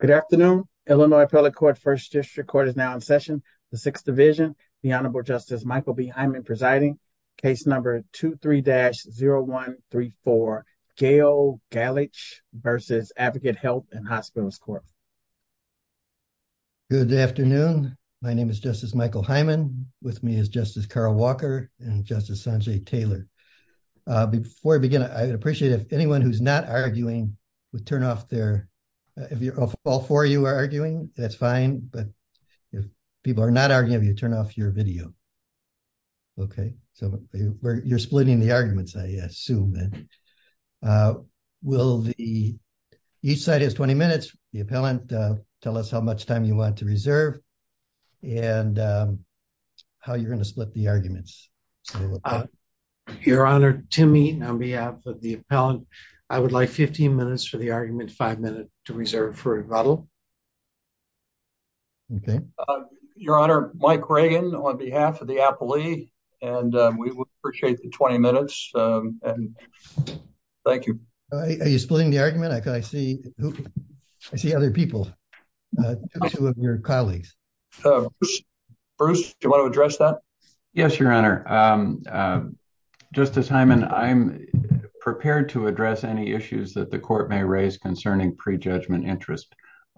Good afternoon. Illinois Appellate Court First District Court is now in session. The Sixth Division, the Honorable Justice Michael B. Hyman presiding, case number 23-0134, Gail Galich v. Advocate Health and Hospitals Corp. Good afternoon. My name is Justice Michael Hyman. With me is Justice Carl Walker and Justice Sanjay Taylor. Before I begin, I appreciate if anyone who's not arguing would turn off their... If all four of you are arguing, that's fine. But if people are not arguing, you turn off your video. Okay. So you're splitting the arguments, I assume. Will the... Each side has 20 minutes. The appellant, tell us how much time you want to reserve and how you're going to split the arguments. I would like 15 minutes. Your Honor, Tim Eaton on behalf of the appellant, I would like 15 minutes for the argument, five minutes to reserve for rebuttal. Okay. Your Honor, Mike Reagan on behalf of the appellee, and we would appreciate the 20 minutes. Thank you. Are you splitting the argument? I see other people, two of your colleagues. Bruce, do you want to address that? Yes, Your Honor. Justice Hyman, I'm prepared to address any issues that the court may raise concerning prejudgment interest.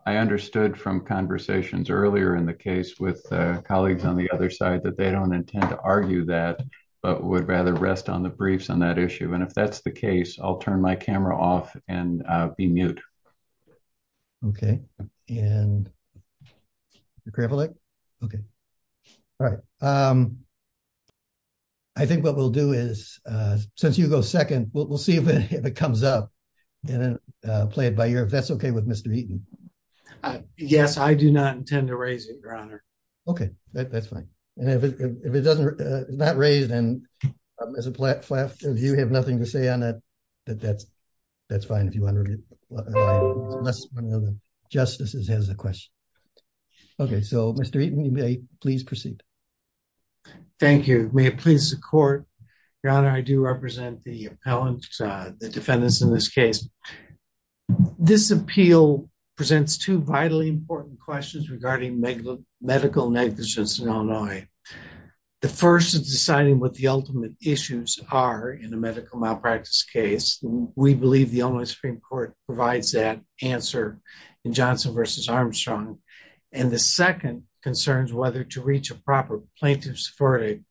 I understood from conversations earlier in the case with colleagues on the other side that they don't intend to argue that, but would rather rest on the briefs on that issue. And if that's the Okay. All right. I think what we'll do is, since you go second, we'll see if it comes up and then play it by ear, if that's okay with Mr. Eaton. Yes, I do not intend to raise it, Your Honor. Okay, that's fine. And if it doesn't, if it's not raised and there's a flat flat, you have nothing to say on that, that's fine if you want to raise it. Unless one of the justices has a question. Okay, so Mr. Eaton, you may please proceed. Thank you. May it please the court, Your Honor, I do represent the defendants in this case. This appeal presents two vitally important questions regarding medical negligence in Illinois. The first is deciding what the ultimate issues are in a medical malpractice case. We believe the Illinois Supreme Court provides that answer in Johnson v. Armstrong. And the second concerns whether to reach a proper plaintiff's verdict.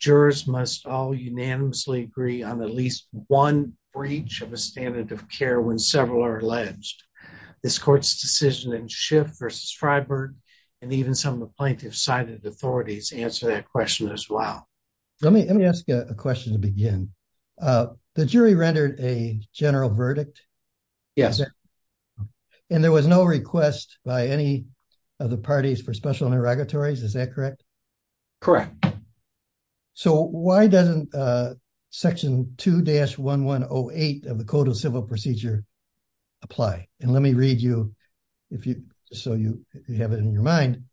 Jurors must all unanimously agree on at least one breach of a standard of care when several are alleged. This court's decision in Schiff v. Fryberg and even some of the plaintiff's cited authorities answer that question as well. Let me ask you a question to begin. The jury rendered a general verdict? Yes. And there was no request by any of the parties for special interrogatories, is that correct? Correct. So why doesn't section 2-1108 of the code of civil procedure apply? And let me read you if you, so you have it in your mind.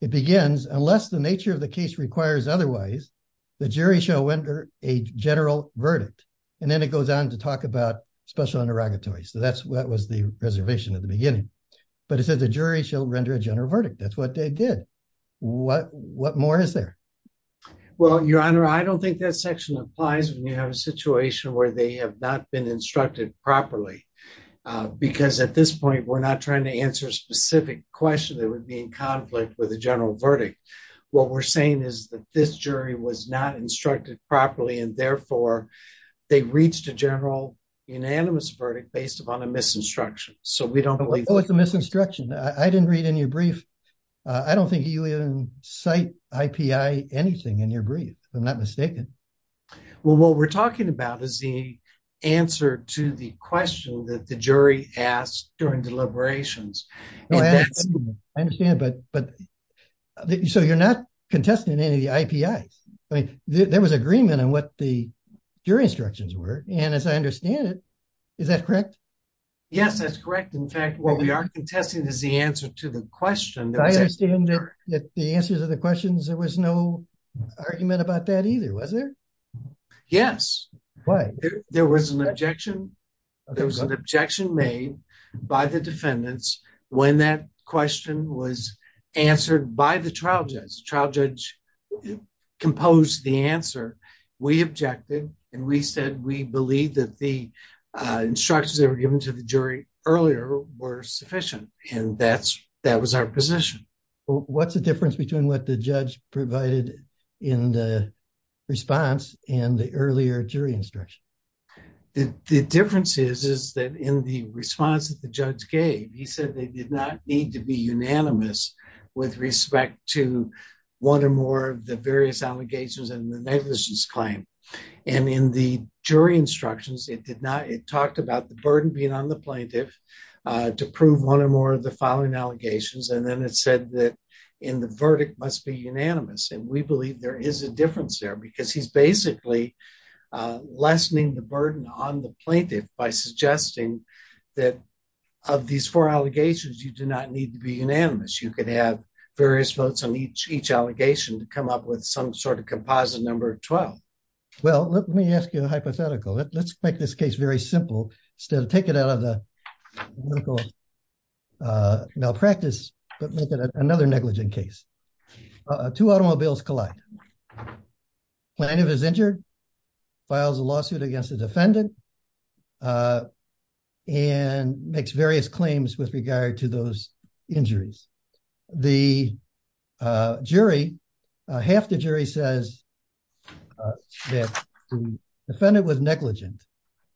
It begins, unless the nature of the case requires otherwise, the jury shall render a general verdict. And then it goes on to talk about special interrogatories. So that was the reservation at the beginning. But it says the jury shall render a general verdict. That's what they did. What more is there? Well, Your Honor, I don't think that section applies when you have a situation where they have not been instructed properly. Because at this point, we're not trying to answer a specific question that would be in conflict with a general verdict. What we're saying is that this jury was not instructed properly, and therefore, they reached a general unanimous verdict based upon a misinstruction. So we don't believe... Oh, it's a misinstruction. I didn't read in your brief. I don't think you even cite IPI anything in your brief, if I'm not mistaken. Well, what we're talking about is the answer to the question that the jury asked during deliberations. I understand, but so you're not contesting any of the IPIs. I mean, there was agreement on what the jury instructions were. And as I understand it, is that correct? Yes, that's correct. In fact, what we are contesting is the answer to the question. I understand that the answers to the questions, there was no argument about that either, was there? Yes. There was an objection made by the defendants when that question was answered by the trial judge. The trial judge composed the answer. We objected, and we said we believed that the instructions that were given to the jury earlier were sufficient. And that was our position. What's the difference between what the judge provided in the response and the earlier jury instruction? The difference is that in the response that the judge gave, he said they did not need to be unanimous with respect to one or more of the various allegations and the negligence claim. And in the jury instructions, it talked about the burden being on the plaintiff to prove one or more of the following allegations. And then it said that in the verdict must be unanimous. And we believe there is a difference there because he's basically lessening the burden on the plaintiff by suggesting that of these four allegations, you do not need to be unanimous. You can have various votes on each allegation to come up with some sort of composite number 12. Well, let me ask you a hypothetical. Let's make this case very simple. Instead of taking it out of the medical malpractice, let's make it another negligent case. Two automobiles collide. Plaintiff is injured, files a lawsuit against the defendant, and makes various claims with regard to those injuries. The jury, half the jury says that the defendant was negligent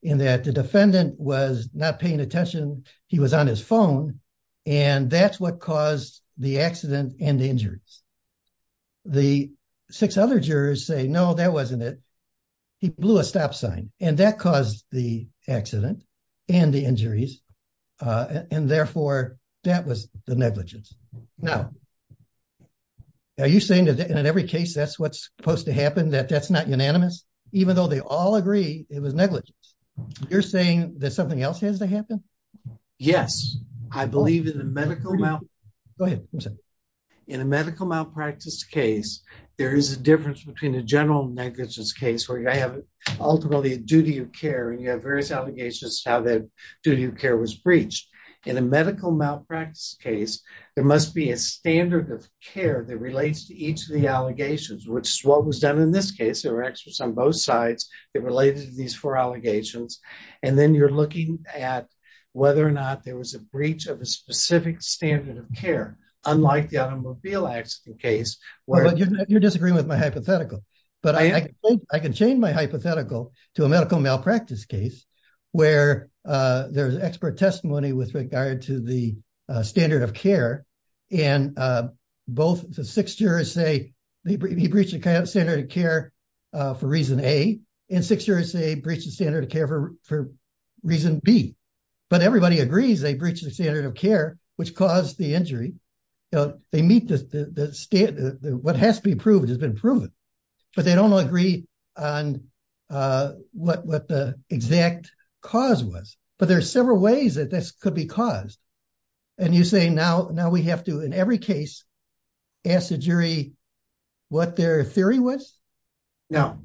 in that the defendant was not paying attention. He was on his phone. And that's what caused the accident and the injuries. The six other jurors say, no, that wasn't it. He blew a stop sign. And that caused the accident and the injuries. And therefore, that was the negligence. Now, are you saying that in every case that's what's supposed to happen, that that's not unanimous? Even though they all agree it was negligence. You're saying that something else has to happen? Yes. I believe in a medical malpractice case, there is a difference between a general negligence case where you have ultimately a duty of care and various allegations of how that duty of care was breached. In a medical malpractice case, there must be a standard of care that relates to each of the allegations, which is what was done in this case. There were experts on both sides that related to these four allegations. And then you're looking at whether or not there was a breach of a specific standard of care, unlike the automobile accident case. You disagree with my hypothetical, but I can change my hypothetical to a medical malpractice case where there was expert testimony with regard to the standard of care. And both the six jurors say he breached the standard of care for reason A, and six jurors say he breached the standard of care for reason B. But everybody agrees they breached the standard of care, which caused the injury. What has to be proved has been proven. But they don't agree on what the exact cause was. But there are several ways that this could be caused. And you say now we have to, in every case, ask the jury what their theory was? No.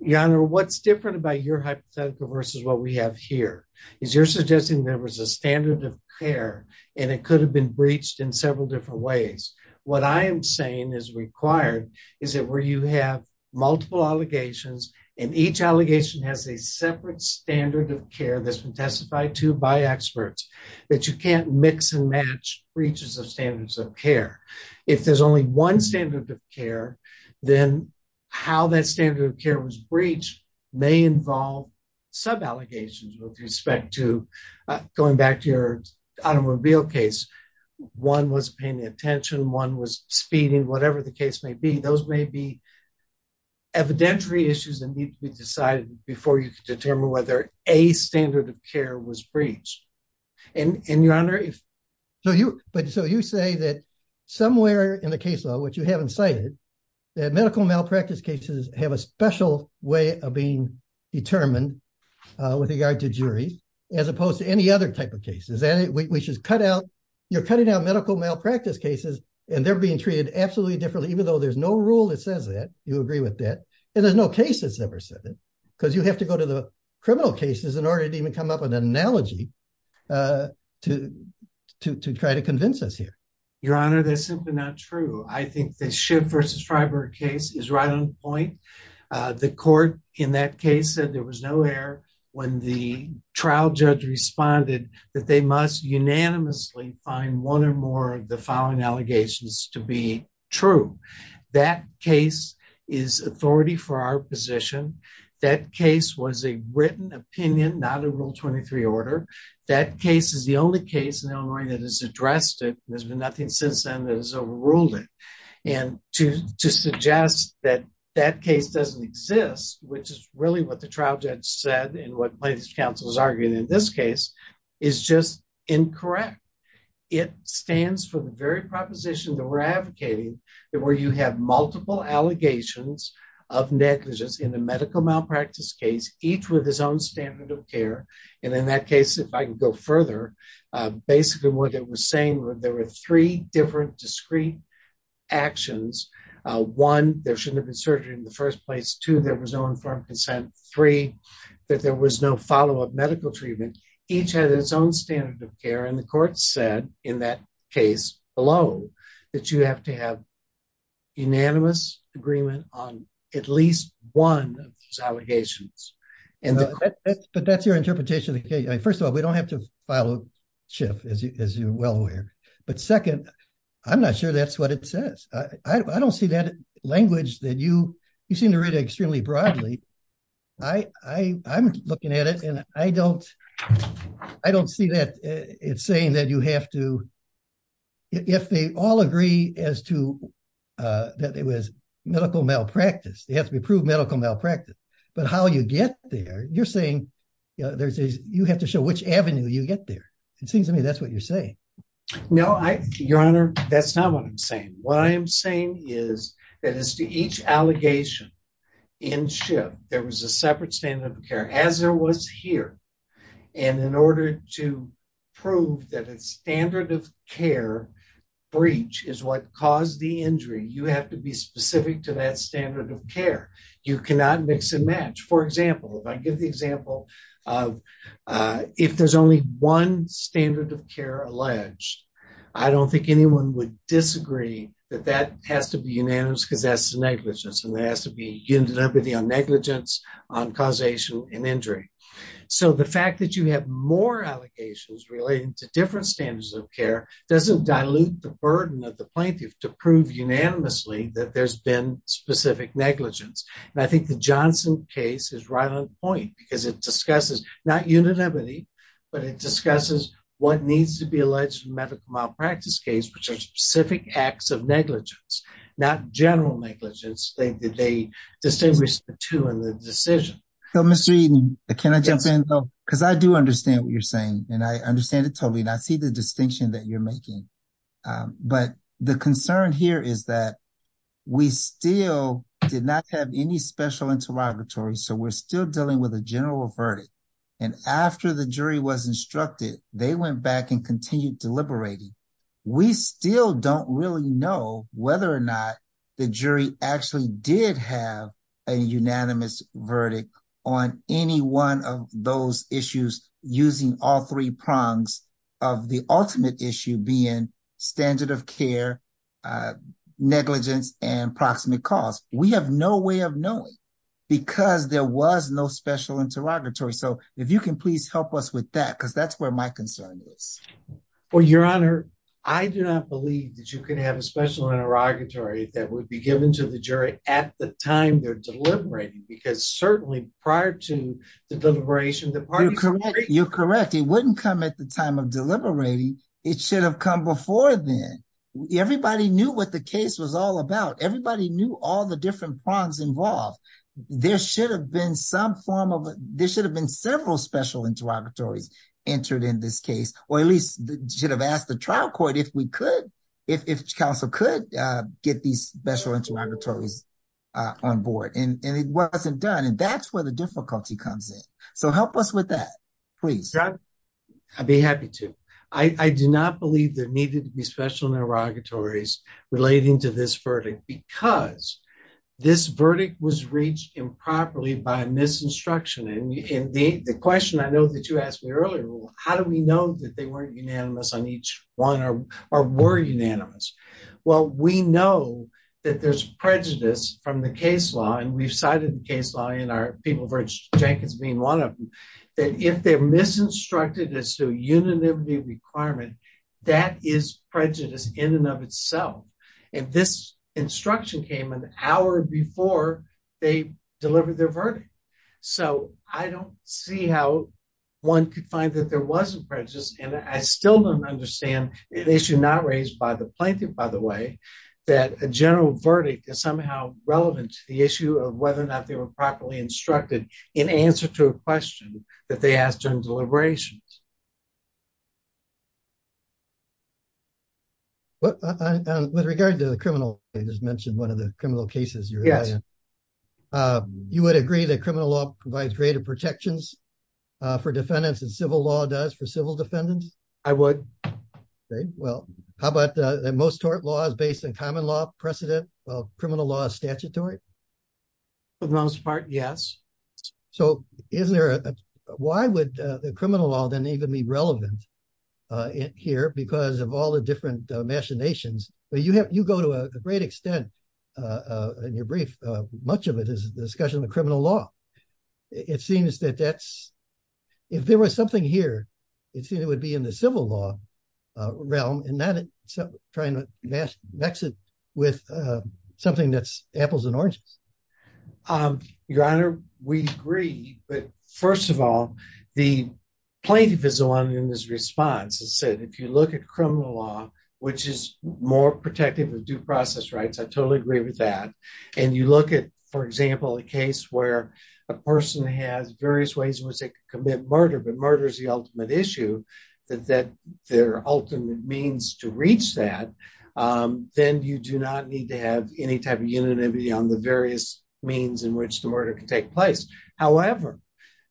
Your Honor, what's different about your hypothetical versus what we have here is you're suggesting there was a standard of care, and it could have been breached in several different ways. What I am saying is required is that where you have multiple allegations, and each allegation has a separate standard of care that's been testified to by experts, that you can't mix and match breaches of standards of care. If there's only one standard of care, then how that standard of care was breached may involve sub-allegations with respect to, going back to your automobile case, one was paying attention, one was speeding, whatever the case may be. Those may be evidentiary issues that need to be decided before you determine whether a standard of care was breached. And your Honor, if... So you say that somewhere in a case law, which you haven't cited, that medical malpractice cases have a special way of being determined with regard to jury, as opposed to any other type of cases. We should cut out, you're cutting out medical malpractice cases, and they're being treated absolutely differently, even though there's no rule that says that, you agree with that, and there's no case that's ever said it, because you have to go to the criminal cases in order to even come up with an analogy to try to convince us here. Your Honor, that's simply not true. I think the Schiff versus O'Hare, when the trial judge responded, that they must unanimously find one or more of the following allegations to be true. That case is authority for our position. That case was a written opinion, not a Rule 23 order. That case is the only case in Illinois that has addressed it. There's been nothing since then that has overruled it. And to suggest that that case doesn't exist, which is really what the trial judge said, and what plaintiff's counsel is arguing in this case, is just incorrect. It stands for the very proposition that we're advocating, that where you have multiple allegations of negligence in a medical malpractice case, each with his own standard of care. And in that case, if I can go further, basically what it was saying was there were three different discrete actions. One, there shouldn't have been surgery in the first place. Two, there was no informed consent. Three, that there was no follow-up medical treatment. Each had its own standard of care. And the court said, in that case below, that you have to have unanimous agreement on at least one of these allegations. But that's your interpretation of the case. First of all, we don't have to follow Schiff, as you're well aware. But second, I'm not sure that's what it says. I don't see that language that you seem to read extremely broadly. I'm looking at it, and I don't see that it's saying that you have to, if they all agree as to that it was medical malpractice, they have to prove medical malpractice. But how you get there, you're saying, you have to show which avenue you get there. It seems to me that's what you're saying. No, Your Honor, that's not what I'm saying. What I am saying is that as to each allegation in Schiff, there was a separate standard of care, as there was here. And in order to prove that a standard of care breach is what caused the injury, you have to be specific to that standard of care. You cannot mix and match. For example, if I give the example of if there's only one standard of care that's alleged, I don't think anyone would disagree that that has to be unanimous, because that's negligence. And there has to be unanimity on negligence on causation and injury. So the fact that you have more allocations relating to different standards of care doesn't dilute the burden of the plaintiff to prove unanimously that there's been specific negligence. And I think the Johnson case is right on point, because it discusses not unanimity, but it discusses what needs to be alleged in medical malpractice case, which are specific acts of negligence, not general negligence. They distinguish the two in the decision. So Mr. Eaton, can I jump in? Because I do understand what you're saying, and I understand it totally, and I see the distinction that you're making. But the concern here is that we still did not have any special interrogatory, so we're still dealing with a general verdict. And after the jury was instructed, they went back and continued deliberating. We still don't really know whether or not the jury actually did have a unanimous verdict on any one of those issues using all three prongs of the ultimate issue being standard of care, negligence, and proximate cause. We have no way of knowing, because there was no special interrogatory. So if you can please help us with that, because that's where my concern is. Well, Your Honor, I do not believe that you could have a special interrogatory that would be given to the jury at the time they're deliberating, because certainly prior to the deliberation, the parties- You're correct. You're correct. It wouldn't come at the time of deliberating. It should have come before then. Everybody knew what the case was all about. Everybody knew all the different prongs involved. There should have been several special interrogatories entered in this case, or at least should have asked the trial court if we could, if counsel could get these special interrogatories on board. And it wasn't done. And that's where the difficulty comes in. So help us with that, please. I'd be happy to. I do not believe there was a special interrogatory that was given to the jury at the time of deliberation, because this verdict was reached improperly by a misinstruction. And the question I know that you asked me earlier, how do we know that they weren't unanimous on each one, or were unanimous? Well, we know that there's prejudice from the case law, and we've cited the case law, or people have heard Jenkins name one of them, that if they're misinstructed as to unanimity requirement, that is prejudice in and of itself. And this instruction came an hour before they delivered their verdict. So I don't see how one could find that there was a prejudice. And I still don't understand, an issue not raised by the plaintiff, by the way, that a general verdict is somehow relevant to the issue of whether or not they were properly instructed in answer to a question that they asked in deliberations. With regard to the criminal, you just mentioned one of the criminal cases. You would agree that criminal law provides greater protections for defendants than civil law does for civil defendants? I would. Okay, well, how about the most tort laws based on common law precedent? Well, criminal law is statutory? For the most part, yes. So why would the criminal law then even be relevant here because of all the different machinations? You go to a great extent in your brief, much of it is discussion of criminal law. It seems that that's, if there was something here, it would be in the civil law realm and not trying to mix it with something that's apples and oranges. Your Honor, we agree. But first of all, the plaintiff is the one in this response that said, if you look at criminal law, which is more protective of due process rights, I totally agree with that. And you look at, for example, a case where a person has various ways in which they could commit murder, but murder is the ultimate issue, that their ultimate means to reach that, then you do not need to have any type of unanimity on the various means in which the murder could take place. However,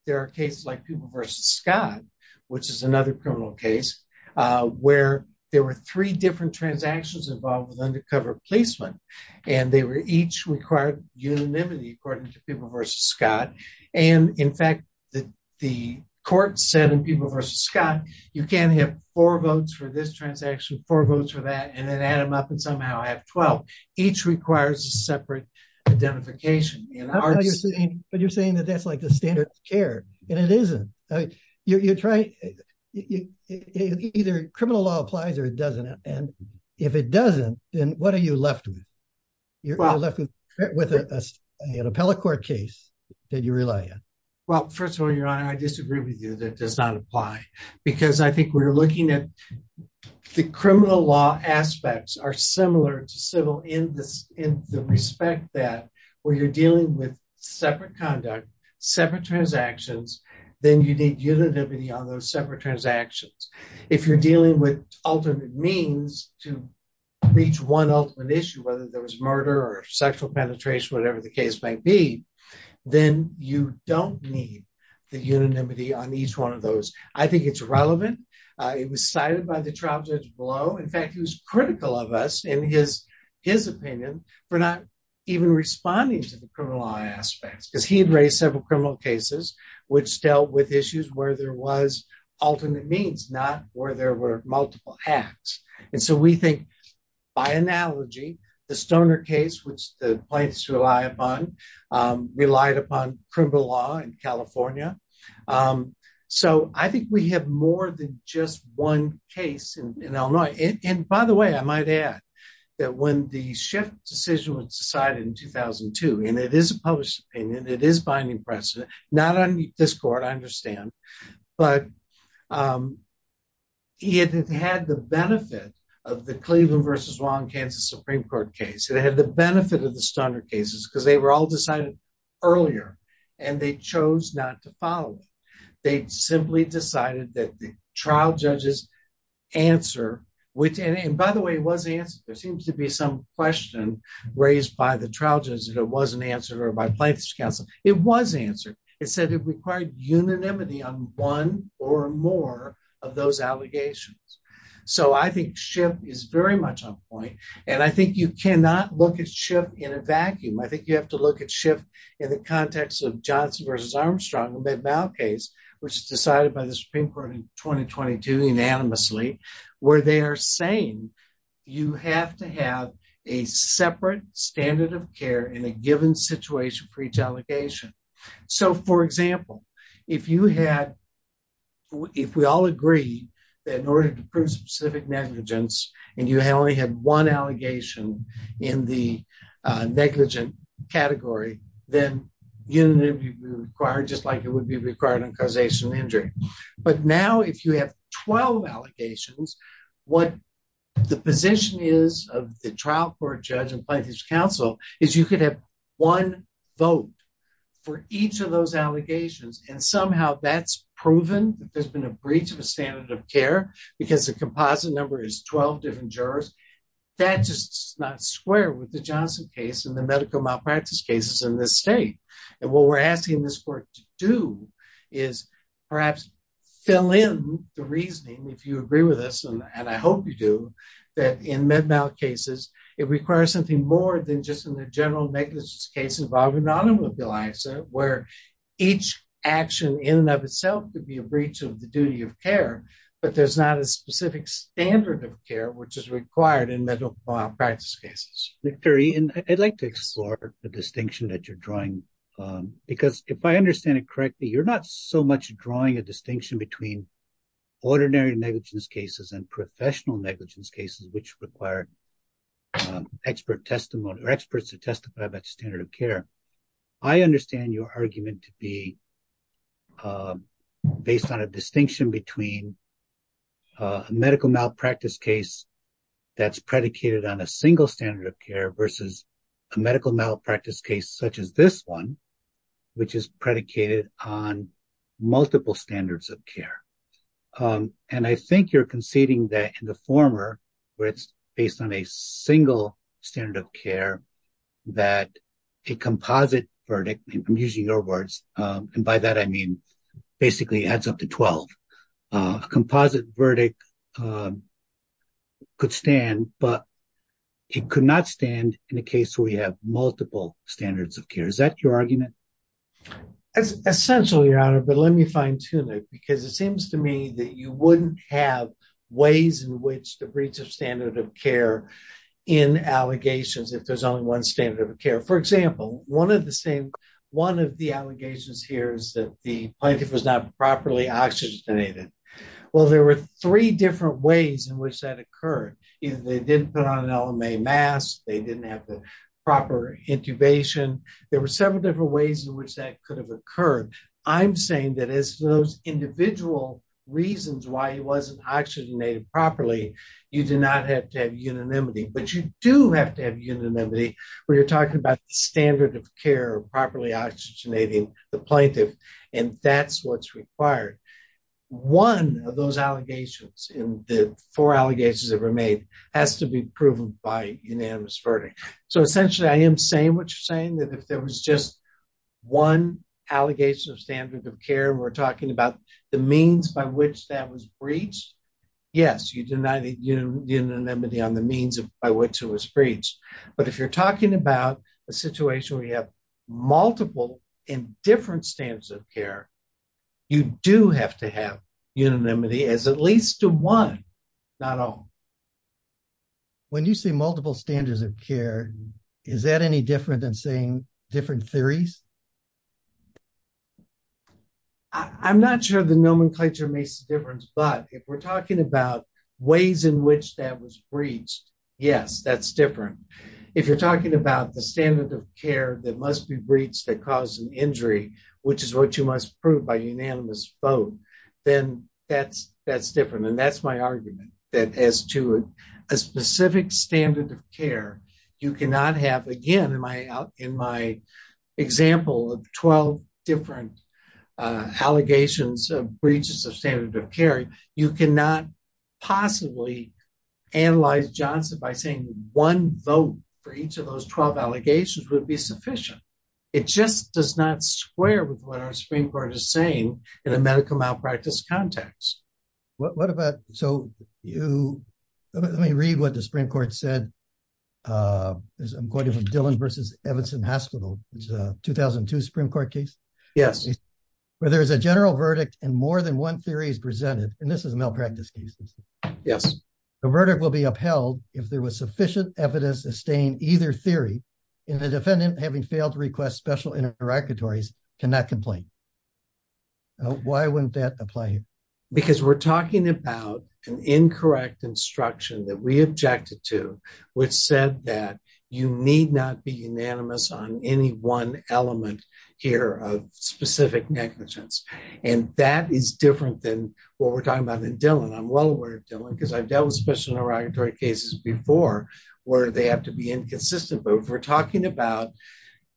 there are cases like Cooper v. Scott, which is another criminal case, where there were three different transactions involved with undercover policemen, and they were each required unanimity according to Cooper v. Scott. And in fact, the court said in Cooper v. Scott, you can't have four votes for this transaction, four votes for that, and then add them up and somehow have 12. Each requires a separate identification. I don't know what you're saying, but you're saying that that's like the standard of care, and it isn't. Either criminal law applies or it doesn't. And if it doesn't, then what are you left with? You're left with an appellate court case that you rely on. Well, first of all, Your Honor, I disagree with you that that does not apply. Because I think we're looking at the criminal law aspects are similar to civil in the respect that when you're dealing with separate conduct, separate transactions, then you need unanimity on those separate transactions. If you're dealing with alternate means to reach one ultimate issue, whether there was murder or sexual penetration, whatever the case might be, then you don't need the unanimity on each one of those. I think it's relevant. It was cited by the trial judge below. In fact, he was critical of us in his opinion for not even responding to the criminal law aspects, because he had raised several criminal cases which dealt with issues where there was alternate means, not where there were multiple acts. And so we think by analogy, the Stoner case, which the plaintiffs relied upon, relied upon criminal law in California. So I think we have more than just one case in Illinois. And by the way, I might add that when the Schiff decision was decided in 2002, and it is a published opinion, it is binding precedent, not only this court, I understand, but it has had the benefit of the Cleveland versus Long Kansas Supreme Court case. It had the benefit of the Stoner cases because they were all decided earlier, and they chose not to follow it. They simply decided that the trial judges answer, and by the way, it was answered. There seems to be some question raised by the trial judges that it wasn't answered or by Plaintiff's counsel. It was answered. It said it required unanimity on one or more of those allegations. So I think Schiff is very much on point. And I think you cannot look at Schiff in a vacuum. I think you have to look at Schiff in the context of Johnson versus Armstrong case, which is decided by the Supreme Court in 2022 unanimously, where they are saying, you have to have a separate standard of care in a given situation for each allegation. So for example, if you had, if we all agree that in order to prove specific negligence, and you only had one allegation in the negligent category, then you would be required just like it would be required in causation of injury. But now if you have 12 allegations, what the position is of the trial court judge and Plaintiff's counsel is you could have one vote for each of those allegations. And somehow that's proven that there's been a breach of the standard of care because the composite number is 12 different jurors. That's just not square with the Johnson case and the medical malpractice cases in this state. And what we're asking this court to do is perhaps fill in the reasoning, if you agree with us, and I hope you do, that in med mal cases, it requires something more than just in the general negligence case involving the automobile where each action in and of itself would be a breach of the duty of care, but there's not a specific standard of care, which is required in medical malpractice cases. Victor, I'd like to explore the distinction that you're drawing, because if I understand it correctly, you're not so much drawing a distinction between ordinary negligence cases and professional negligence cases, which require expert testimony or experts to testify that standard of care. I understand your argument to be based on a distinction between a medical malpractice case that's predicated on a single standard of care versus a medical malpractice case such as this one, which is predicated on multiple standards of care. And I think you're conceding that in where it's based on a single standard of care that a composite verdict, I'm using your words, and by that I mean basically adds up to 12. A composite verdict could stand, but it could not stand in a case where you have multiple standards of care. Is that your argument? Essentially, Your Honor, but let me fine tune it, because it seems to me that you wouldn't have ways in which the breach of standard of care in allegations if there's only one standard of care. For example, one of the allegations here is that the plaintiff was not properly oxygenated. Well, there were three different ways in which that occurred. They didn't put on an LMA mask. They didn't have the proper intubation. There were several different ways in which that could occur. I'm saying that as those individual reasons why he wasn't oxygenated properly, you do not have to have unanimity, but you do have to have unanimity when you're talking about standard of care, properly oxygenating the plaintiff, and that's what's required. One of those allegations in the four allegations that were made has to be proven by unanimous verdict. So essentially, I am saying what you're saying, that if there was just one allegation of standard of care, we're talking about the means by which that was breached. Yes, you do not have unanimity on the means by which it was breached, but if you're talking about a situation where you have multiple and different standards of care, you do have to have is that any different than saying different theories? I'm not sure the nomenclature makes a difference, but if we're talking about ways in which that was breached, yes, that's different. If you're talking about the standard of care that must be breached to cause an injury, which is what you must prove by unanimous vote, then that's different. And that's my argument that as to a specific standard of care, you cannot have, again, in my example of 12 different allegations of breaches of standard of care, you cannot possibly analyze Johnson by saying one vote for each of those 12 allegations would be sufficient. It just does not square with what our Supreme Court is saying in a medical malpractice context. What about, so you, let me read what the Supreme Court said, as I'm quoting from Dillon versus Evanston Hospital, it's a 2002 Supreme Court case. Yes. Where there's a general verdict and more than one theory is presented, and this is a malpractice case. Yes. The verdict will be upheld if there was sufficient evidence to sustain either theory, and the defendant having failed to request special interlocutories cannot complain. Why wouldn't that apply? Because we're talking about an incorrect instruction that we objected to, which said that you need not be unanimous on any one element here of specific negligence. And that is different than what we're talking about in Dillon. I'm well aware of Dillon, because I've dealt with special negligence, but we're talking about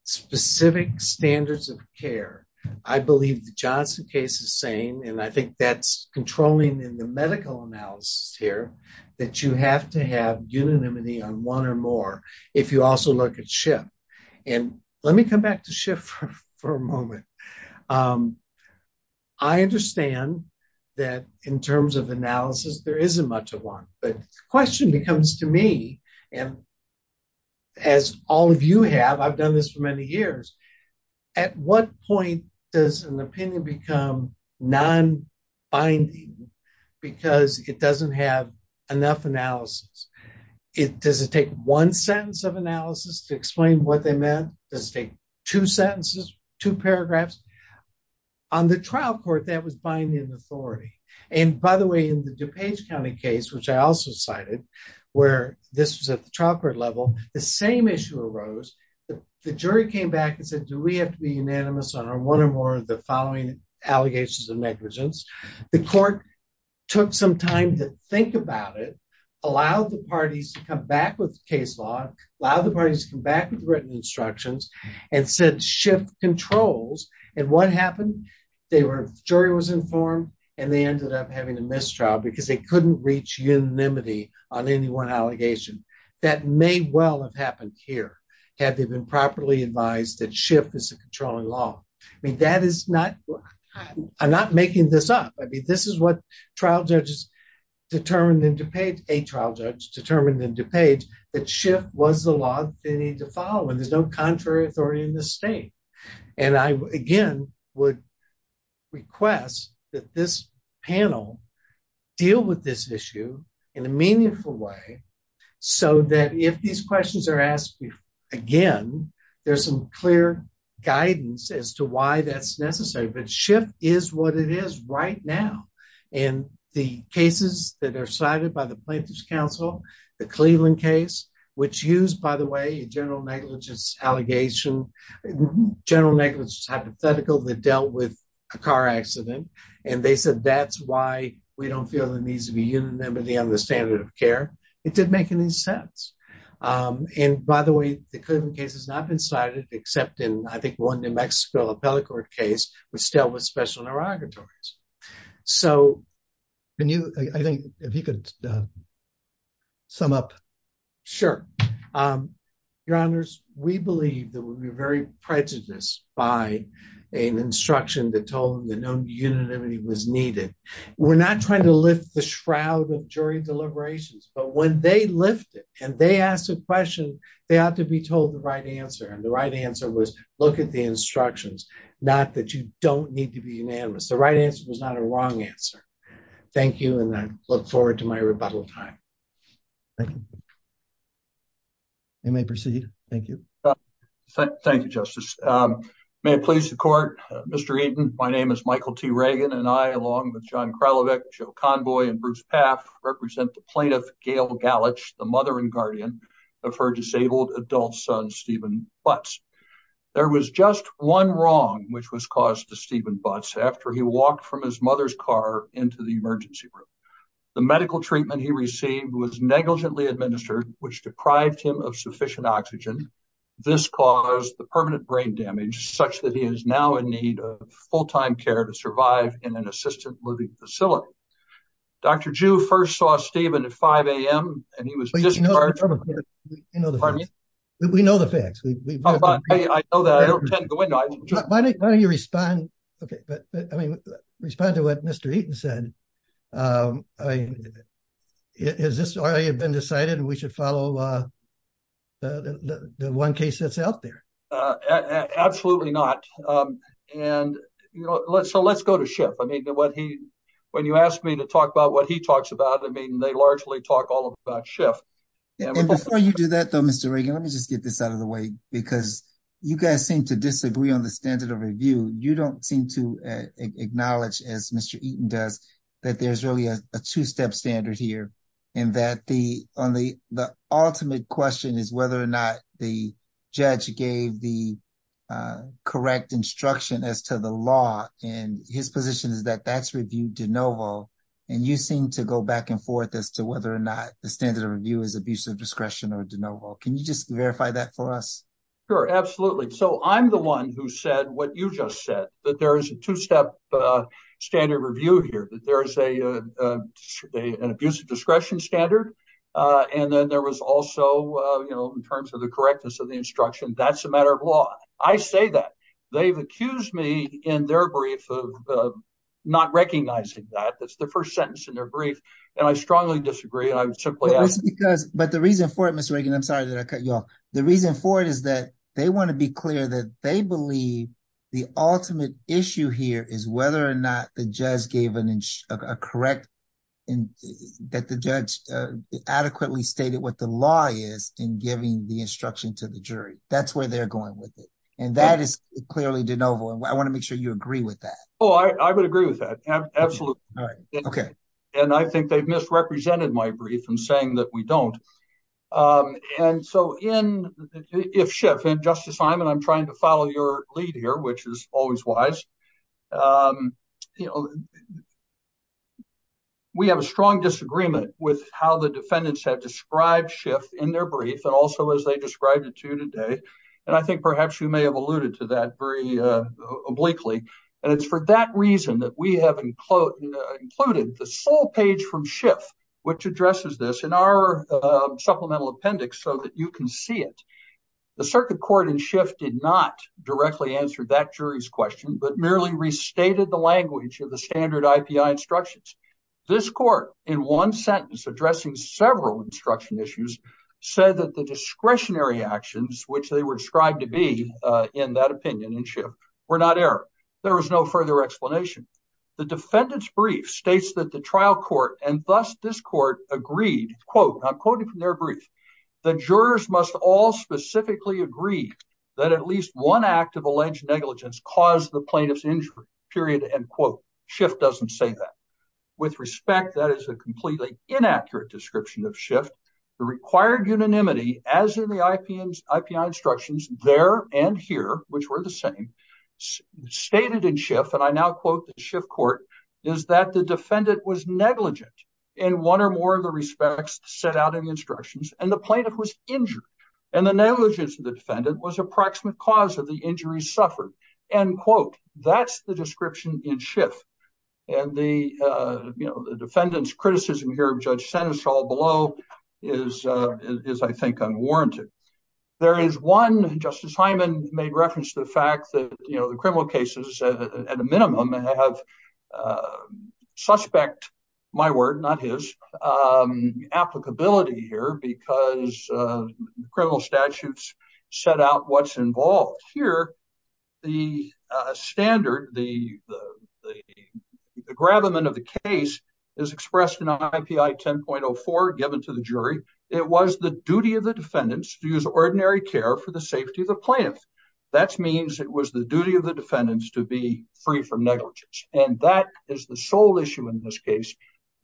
specific standards of care. I believe the Johnson case is saying, and I think that's controlling in the medical analysis here, that you have to have unanimity on one or more, if you also look at Schiff. And let me come back to Schiff for a moment. I understand that in terms of analysis, there isn't much of one, but the question becomes to me, and as all of you have, I've done this for many years, at what point does an opinion become non-binding, because it doesn't have enough analysis? Does it take one sentence of analysis to explain what they meant? Does it take two sentences, two paragraphs? On the trial court, that was binding authority. And by the way, in the DuPage County case, which I also cited, where this was at the trial court level, the same issue arose. The jury came back and said, do we have to be unanimous on one or more of the following allegations of negligence? The court took some time to think about it, allowed the parties to come back with case law, allowed the parties to come back with written instructions, and said Schiff controls. And what happened? The jury was informed, and they ended up having a mistrial, because they couldn't reach unanimity on any one allegation. That may well have happened here, had they been properly advised that Schiff is the controlling law. I mean, that is not, I'm not making this up. I mean, this is what trial judges determined in DuPage, a trial judge determined in DuPage, that Schiff was the law they needed to follow, and there's no contrary authority in this state. And I, again, would request that this panel deal with this issue in a meaningful way, so that if these questions are asked again, there's some clear guidance as to why that's necessary. But Schiff is what it is right now. And the cases that are cited by the plaintiffs' counsel, the Cleveland case, which used, by the way, a general negligence allegation, general negligence hypothetical, that dealt with a car accident, and they said, that's why we don't feel there needs to be human memory under the standard of care, it didn't make any sense. And by the way, the Cleveland case has not been cited, except in, I think, one New Mexico appellate court case, which dealt with special interrogatories. So, can you, I think, if you could sum up. Sure. Your honors, we believe that we were very prejudiced by an instruction that told them that no unanimity was needed. We're not trying to lift the shroud of jury deliberations, but when they lift it, and they ask a question, they have to be told the right answer. And the right answer was, look at the instructions, not that you don't need to be unanimous. The right answer was not a wrong answer. Thank you, and I look forward to my rebuttal time. Thank you. You may proceed. Thank you. Thank you, Justice. May it please the court, Mr. Eaton, my name is Michael T. Reagan, and I, along with John Kralovec, Joe Convoy, and Bruce Paff, represent the plaintiff, Gail Gallich, the mother and guardian of her disabled adult son, Stephen Butts. There was just one wrong which was caused to Stephen Butts after he walked from his which deprived him of sufficient oxygen. This caused the permanent brain damage such that he is now in need of full-time care to survive in an assisted living facility. Dr. Jew first saw Stephen at 5 a.m., and he was- We know the facts. We know the facts. I know that. I don't intend to go into it. Why don't you respond to what Mr. Eaton said? I mean, has this already been decided? We should follow the one case that's out there. Absolutely not. And, you know, so let's go to Schiff. I mean, when he, when you ask me to talk about what he talks about, I mean, they largely talk all about Schiff. And before you do that, though, Mr. Reagan, let me just get this out of the way, because you guys seem to disagree on the standard of review. You don't seem to acknowledge, as Mr. Eaton does, that there's really a two-step standard here, and that the only, the ultimate question is whether or not the judge gave the correct instruction as to the law, and his position is that facts were viewed de novo, and you seem to go back and forth as to whether or not the standard of review is abuse of discretion or de novo. Can you just verify that for us? Sure, absolutely. So I'm the one who said what you just said, that there is a two-step standard of review here, that there is an abuse of discretion standard, and then there was also, you know, in terms of the correctness of the instruction, that's a matter of law. I say that. They've accused me in their brief of not recognizing that. That's the first sentence in their brief, and I strongly disagree. I simply... But the reason for it, Mr. Reagan, I'm sorry that I cut you off. The reason for it is that they want to be clear that they believe the ultimate issue here is whether or not the judge gave a correct, that the judge adequately stated what the law is in giving the instruction to the jury. That's where they're going with it, and that is clearly de novo, and I want to make sure you agree with that. Oh, I would agree with that, absolutely. And I think they've misrepresented my brief in saying that we don't. And so if Schiff, and Justice Hyman, I'm trying to follow your lead here, which is always wise, you know, we have a strong disagreement with how the defendants had described Schiff in their brief, and also as they described it to you today, and I think perhaps you may have alluded to that very obliquely, and it's for that reason that we have included the sole page from Supplemental Appendix so that you can see it. The circuit court in Schiff did not directly answer that jury's question, but merely restated the language of the standard IPI instructions. This court, in one sentence addressing several instruction issues, said that the discretionary actions, which they were described to be in that opinion in Schiff, were not error. There was no further explanation. The defendant's brief states that the trial court, and thus this court, agreed, quote, and I'm quoting from their brief, the jurors must all specifically agree that at least one act of alleged negligence caused the plaintiff's injury, period, end quote. Schiff doesn't say that. With respect, that is a completely inaccurate description of Schiff. The required unanimity, as in the IPI instructions there and here, which were the same, stated in Schiff, and I now quote the Schiff court, is that the defendant was negligent in one or more of the respects set out in the instructions, and the plaintiff was injured, and the negligence of the defendant was approximate cause of the injury suffered, end quote. That's the description in Schiff, and the defendant's criticism here of Judge Stanislau below is, I think, unwarranted. There is one, and Justice Hyman made reference to the criminal cases at a minimum, and I have suspect, my word, not his, applicability here because criminal statutes set out what's involved. Here, the standard, the gravamen of the case is expressed in IPI 10.04 given to the jury. It was the duty of the defendants to be free from negligence, and that is the sole issue in this case,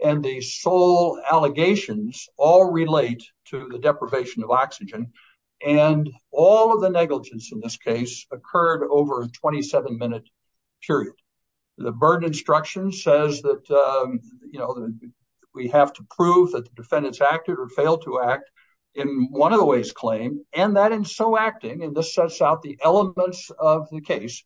and the sole allegations all relate to the deprivation of oxygen, and all of the negligence in this case occurred over a 27-minute period. The burden instruction says that we have to prove that the defendants acted or failed to act in one of the ways claimed, and that in so acting, and this sets out the elements of the case,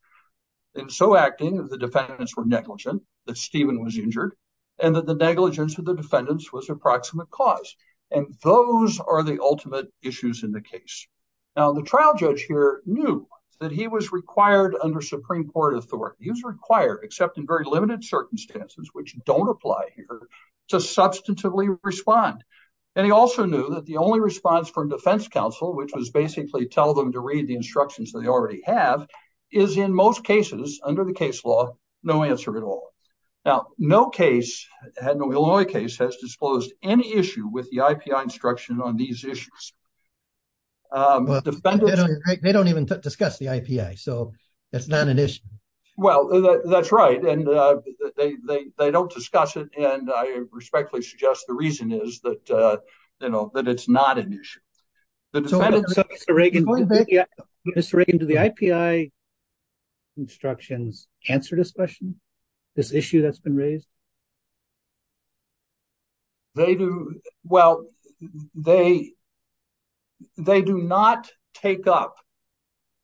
in so acting, the defendants were negligent, that Stephen was injured, and that the negligence of the defendants was approximate cause, and those are the ultimate issues in the case. Now, the trial judge here knew that he was required under Supreme Court authority. He was required, except in very limited circumstances, which don't apply here, to substantively respond, and he also knew that the only response from defense counsel, which was basically tell them to read the instructions they already have, is in most cases, under the case law, no answer at all. Now, no case, and the Illinois case, has disclosed any issue with the IPI instruction on these issues. They don't even discuss the IPI, so it's not an issue. Well, that's right, and they don't discuss it, and I respectfully suggest the reason is that it's not an issue. Mr. Reagan, do the IPI instructions answer discussion, this issue that's been raised? Well, they do not take up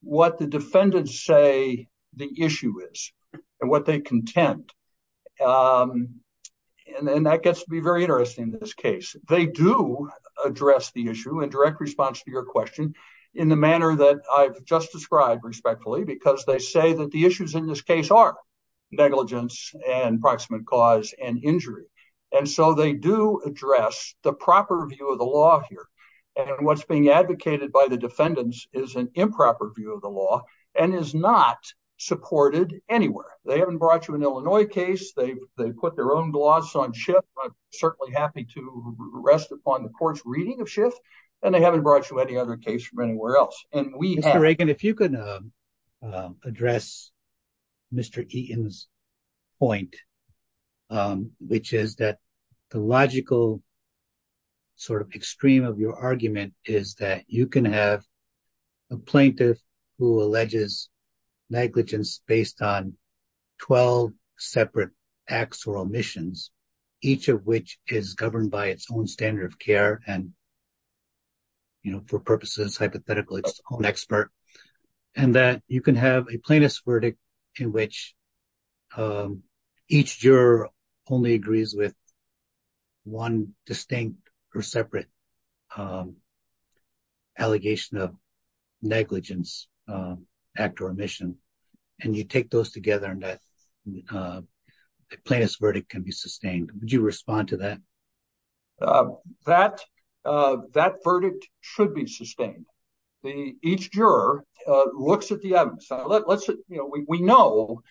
what the defendants say the issue is, and what they contend, and that gets to be very interesting in this case. They do address the issue in direct response to your question in the manner that I've just described respectfully, because they say that the issues in this case are negligence and approximate cause and injury, and so they do address the proper view of the law here, and what's being advocated by the defendants is an improper view of the law, and is not supported anywhere. They haven't brought you an Illinois case. They put their own gloss on Schiff. I'm certainly happy to rest upon the court's reading of Schiff, and they haven't brought you any other case from anywhere else. Mr. Reagan, if you can address Mr. Eaton's point, which is that the logical sort of extreme of your argument is that you can have a plaintiff who alleges negligence based on 12 separate acts or omissions, each of which is governed by its own standard of care, and for purposes hypothetical, its own expert, and that you can have a plaintiff's verdict in which each juror only agrees with one distinct or separate allegation of negligence act or omission, and you take those together, and that the plaintiff's verdict can be sustained. Would you respond to that? That verdict should be sustained. Each juror looks at the evidence. We know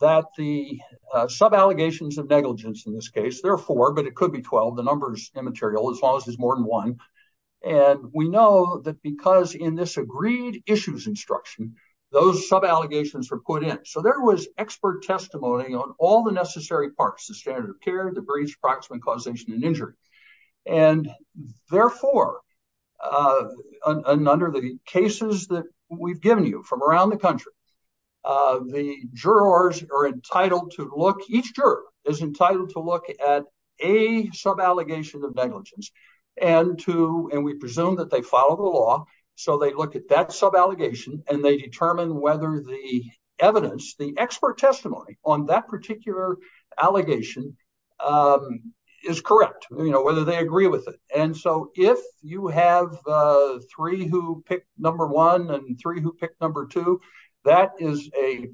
that the sub-allegations of negligence in this case, there are four, but it could be 12. The number's immaterial as long as it's more than one, and we know that because in this agreed issues instruction, those sub-allegations are put in. So there was expert testimony on all the injured, and therefore, under the cases that we've given you from around the country, the jurors are entitled to look, each juror is entitled to look at a sub-allegation of negligence and to, and we presume that they follow the law, so they look at that sub-allegation, and they determine whether the evidence, the expert testimony on that particular allegation is correct, you know, whether they agree with it. And so if you have three who pick number one and three who pick number two, that is a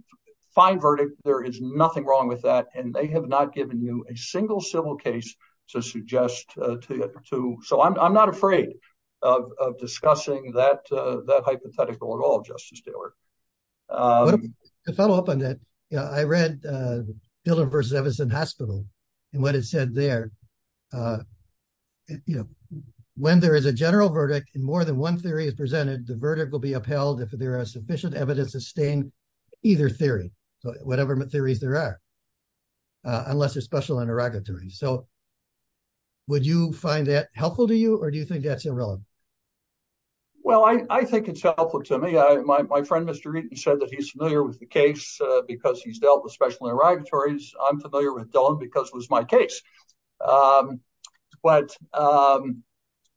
fine verdict. There is nothing wrong with that, and they have not given you a single civil case to suggest to, so I'm not afraid of discussing that hypothetical at all, Justice Taylor. Let's follow up on that. Yeah, I read Dillard versus Everson Hospital, and what it said there, you know, when there is a general verdict and more than one theory is presented, the verdict will be upheld if there is sufficient evidence to sustain either theory, whatever theories there are, unless it's special interrogatory. So would you find that helpful to you, or do you think that's irrelevant? Well, I think it's helpful to me. My friend, Mr. Reed, said that he's familiar with the case because he's dealt with special interrogatories. I'm familiar with Dillon because it was my case. But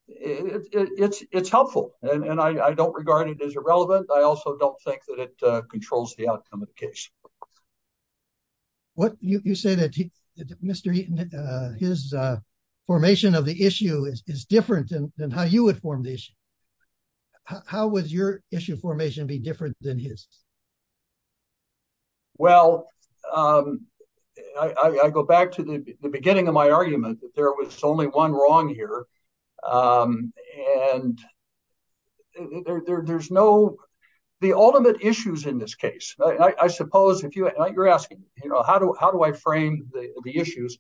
it's helpful, and I don't regard it as irrelevant. I also don't think that it controls the outcome of the case. You say that Mr. Eaton, his formation of the issue is different than how you would form the issue. How would your issue formation be different than his? Well, I go back to the beginning of my argument that there was only one wrong here, and there's no—the ultimate issues in this case, I suppose, if you're asking, you know, how do I frame the issues,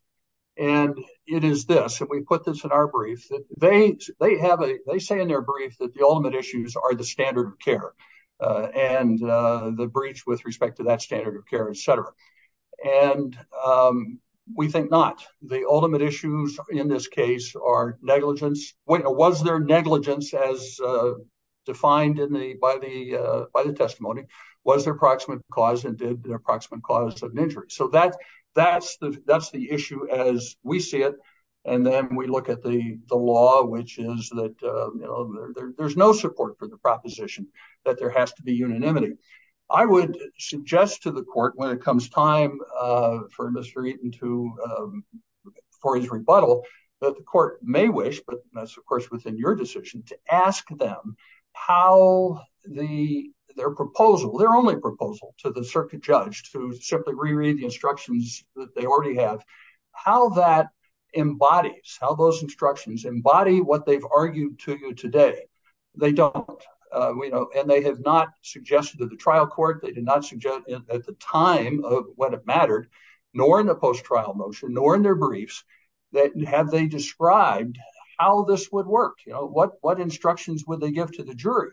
and it is this. If we put this in our brief, they say in their brief that the ultimate issues are the standard of care and the breach with respect to that standard of care, et cetera. And we think not. The ultimate issues in this case are negligence. Was there negligence as defined by the testimony? Was there an approximate cause, and did the approximate cause of an injury? So that's the issue as we see it, and then we look at the law, which is that there's no support for the proposition that there has to be unanimity. I would suggest to the court when it comes time for Mr. Eaton to, for his rebuttal, that the court may wish, but that's, of course, within your decision, to ask them how their proposal, their only proposal to the circuit judge to simply reread the instructions that they already have, how that embodies, how those today. They don't, you know, and they have not suggested to the trial court, they did not suggest at the time of what it mattered, nor in the post-trial motion, nor in their briefs, that have they described how this would work. You know, what instructions would they give to the jury?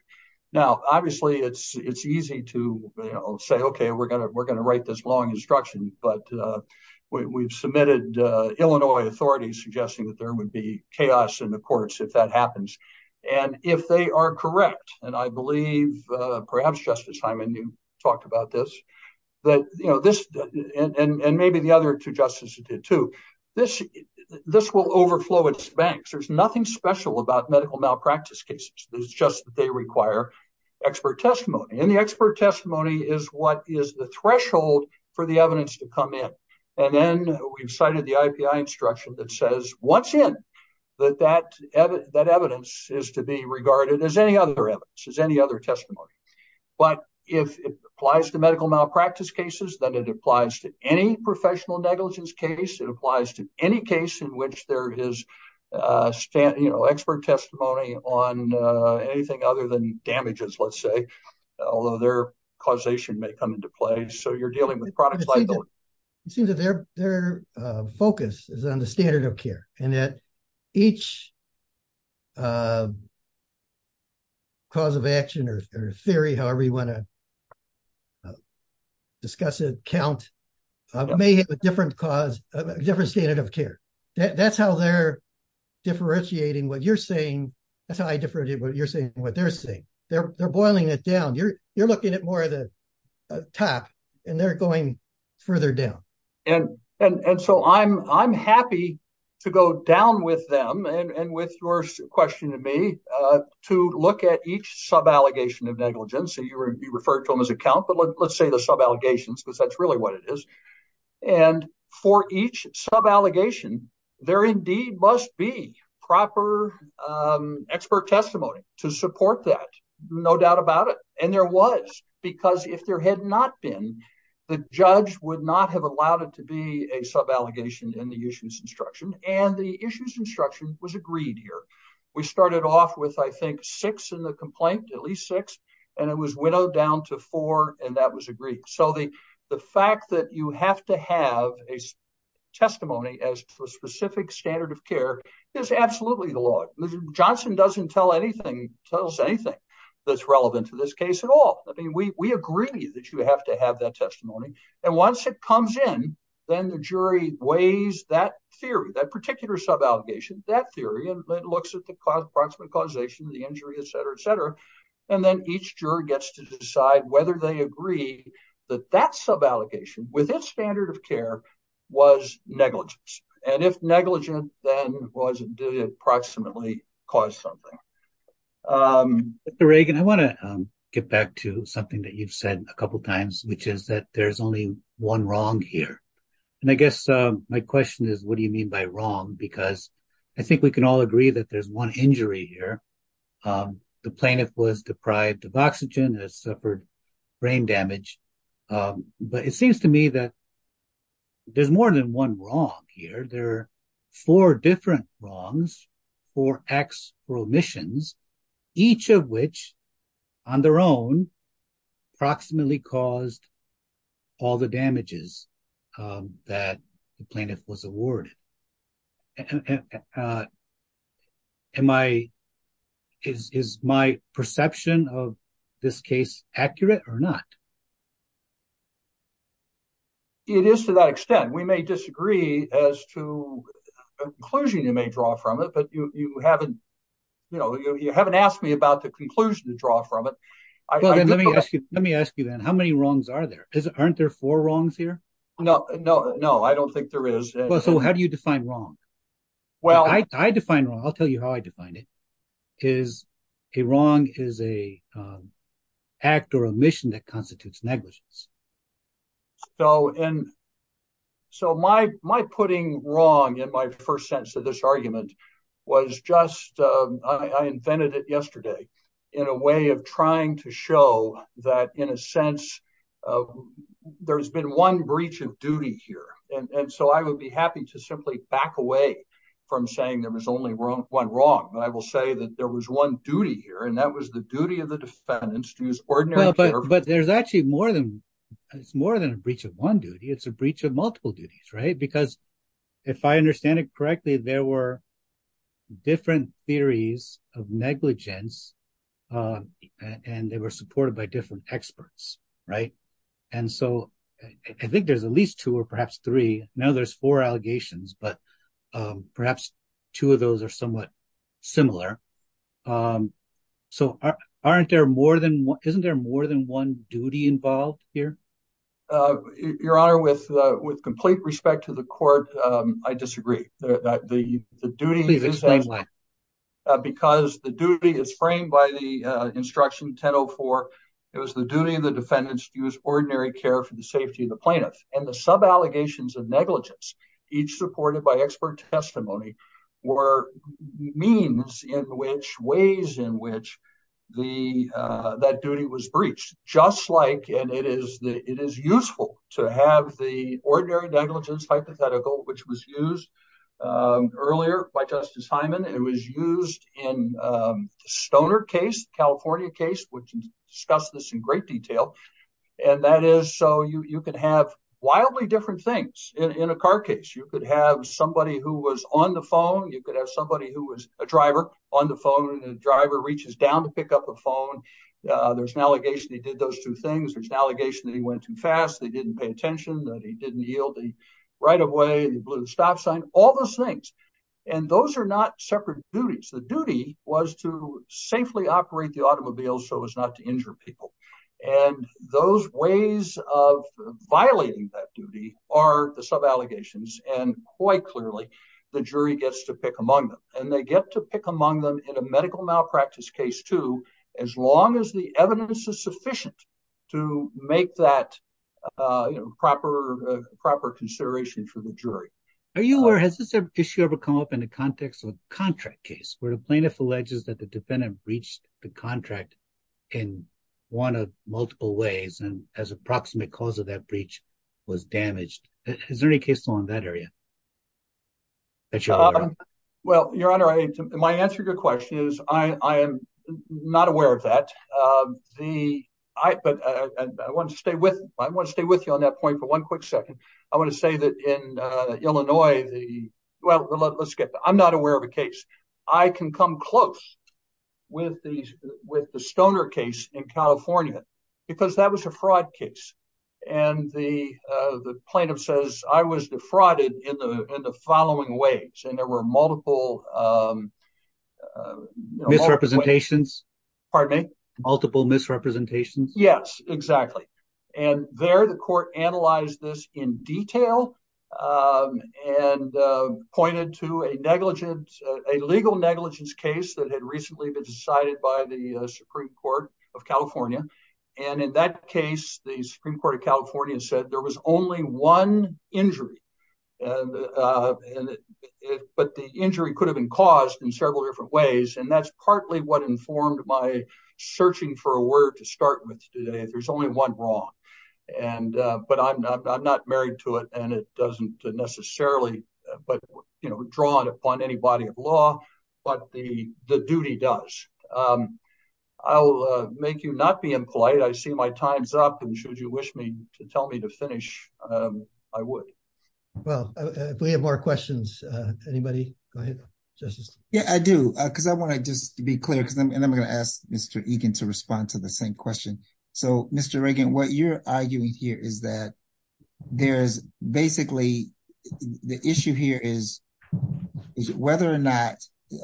Now, obviously, it's easy to say, okay, we're going to write this long instruction, but we've submitted Illinois authorities suggesting that there would be chaos in the courts if that happens, and if they are correct, and I believe perhaps Justice Hyman talked about this, that, you know, this, and maybe the other two justices did too, this will overflow its banks. There's nothing special about medical malpractice cases. It's just they require expert testimony, and the expert testimony is what is the threshold for the evidence to come in, and then we've cited the IPI instruction that says what's in, that that evidence is to be regarded as any other evidence, as any other testimony, but if it applies to medical malpractice cases, then it applies to any professional negligence case. It applies to any case in which there is, you know, expert testimony on anything other than damages, let's say, although their causation may come into play, so you're dealing with products like those. It seems that their focus is on the standard of care, and that each cause of action or theory, however you want to discuss it, count, may have a different cause, a different standard of care. That's how they're differentiating what you're saying. That's how I differentiate what you're saying from what they're saying. They're going further down, and so I'm happy to go down with them and with your question of me to look at each sub-allegation of negligence. You referred to them as a count, but let's say the sub-allegations because that's really what it is, and for each sub-allegation, there indeed must be proper expert testimony to support that, no doubt about it, and there was because if there had not been, the judge would not have allowed it to be a sub-allegation in the issues instruction, and the issues instruction was agreed here. We started off with, I think, six in the complaint, at least six, and it was widowed down to four, and that was agreed, so the fact that you have to have a testimony as to a specific standard of care is absolutely the law. Johnson doesn't tell us anything that's relevant to this case at all. I mean, we agree that you have to have that testimony, and once it comes in, then the jury weighs that theory, that particular sub-allegation, that theory, and it looks at the cause of the causation, the injury, et cetera, et cetera, and then each juror gets to decide whether they agree that that sub-allegation within standard of care was negligent, and if negligent, then was it due to approximately cause something. Mr. Reagan, I want to get back to something that you've said a couple times, which is that there's only one wrong here, and I guess my question is, what do you mean by wrong? Because I think we can all agree that there's one injury here. The plaintiff was deprived of oxygen and suffered brain damage, but it seems to me that there's more than one wrong here. There are four different wrongs, four exclamations, each of which, on their own, approximately caused all the damages that the plaintiff was awarded. Is my perception of this case accurate or not? It is to that extent. We may disagree as to the conclusion you may draw from it, but you haven't asked me about the conclusion to draw from it. Let me ask you then, how many wrongs are there? Aren't there four wrongs here? No, I don't think there is. How do you define wrong? I'll tell you how I define it. A wrong is an act or a mission that constitutes negligence. My putting wrong in my first sense of this argument was just, I invented it yesterday in a way of trying to show that, in a sense, there's been one breach of duty here. I would be happy to simply back away from saying there was only one wrong. I will say that there was one duty here, and that was the duty of the defendants to use ordinary care. But there's actually more than a breach of one duty. It's a breach of multiple duties. Because if I understand it correctly, there were different theories of negligence, and they were supported by different experts. I think there's at least two or perhaps three. Now there's four allegations, but perhaps two of those are somewhat similar. Isn't there more than one duty involved here? Your Honor, with complete respect to the court, I disagree. Because the duty is framed by the instruction 1004. It was the duty of the defendants to use ordinary care for the safety of the plaintiff. The sub-allegations of negligence, each supported by expert testimony, were means in which, ways in which, that duty was breached. And it is useful to have the ordinary negligence hypothetical, which was used earlier by Justice Hyman. It was used in Stoner case, California case, which discusses this in great detail. And that is so you can have wildly different things in a car case. You could have somebody who was on the phone. You could have somebody who was a driver on the phone, and the those two things. There's an allegation that he went too fast, that he didn't pay attention, that he didn't yield the right-of-way, the blue stop sign, all those things. And those are not separate duties. The duty was to safely operate the automobile so as not to injure people. And those ways of violating that duty are the sub-allegations. And quite clearly, the jury gets to pick among them. And they get to pick among them in a medical malpractice case, too, as long as the evidence is sufficient to make that proper consideration for the jury. Are you aware, has this issue ever come up in the context of a contract case, where the plaintiff alleges that the defendant breached the contract in one of multiple ways, and as a proximate cause of that breach was damaged? Is there any case law in that area? Well, Your Honor, my answer to your question is, I am not aware of that. I want to stay with you on that point for one quick second. I want to say that in Illinois, well, let's get, I'm not aware of a case. I can come close with the Stoner case in California, because that was a fraud case. And the plaintiff says, I was defrauded in the following ways. And there were multiple misrepresentations. Pardon me? Multiple misrepresentations. Yes, exactly. And there, the court analyzed this in detail and pointed to a negligence, a legal negligence case that had recently been decided by the Supreme Court of California. And in that case, the Supreme Court of California said there was only one injury. But the injury could have been caused in several different ways. And that's partly what informed my searching for a word to start with today. There's only one wrong. But I'm not married to it, and it doesn't necessarily draw upon any body of law, but the duty does. I'll make you not be impolite. I see my time's up. And should you wish me to tell me to finish, I would. Well, if we have more questions, anybody, go ahead, Justice. Yeah, I do. Because I want to just be clear. And I'm going to ask Mr. Egan to respond to the same question. So, Mr. Egan, what you're arguing here is that there's basically, the issue here is whether or not,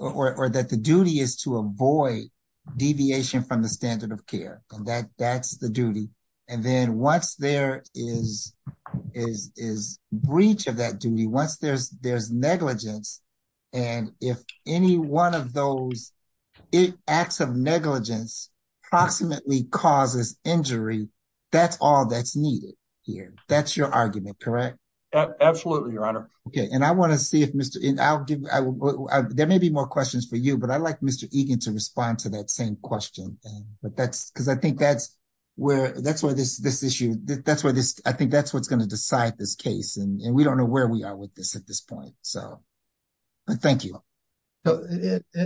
or that the duty is to avoid deviation from the standard of care. And that's the duty. And then once there is breach of that duty, once there's negligence, and if any one of those acts of negligence approximately causes injury, that's all that's argument, correct? Absolutely, Your Honor. Okay. And I want to see if Mr. Egan, there may be more questions for you, but I'd like Mr. Egan to respond to that same question. Because I think that's where this issue, I think that's what's going to decide this case. And we don't know where we are with this at this point. So, thank you.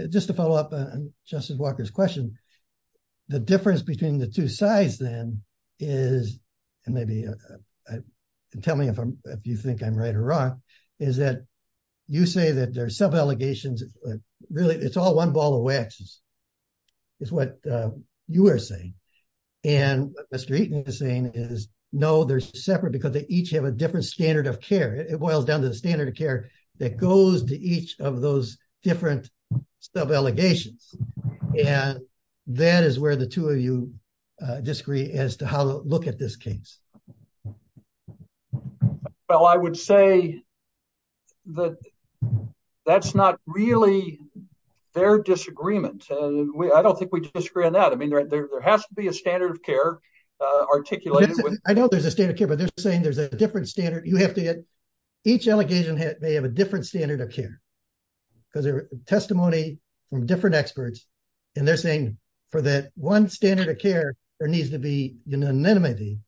Just to follow up on Justice Walker's question, the difference between the two sides then is, and maybe tell me if you think I'm right or wrong, is that you say that there's sub-allegations, but really it's all one ball of wax, is what you are saying. And Mr. Eaton is saying is, no, they're separate because they each have a different standard of care. It boils down to the standard of care that goes to each of those different sub-allegations. And that is where the two of you disagree as to how to look at this case. Well, I would say that that's not really their disagreement. I don't think we disagree on that. I mean, there has to be a standard of care articulated. I know there's a standard of care, but they're saying there's a different standard. You have to get, each allegation may have a different standard of care. Because they're testimony from different experts, and they're saying for that one standard of care, there needs to be unanimity.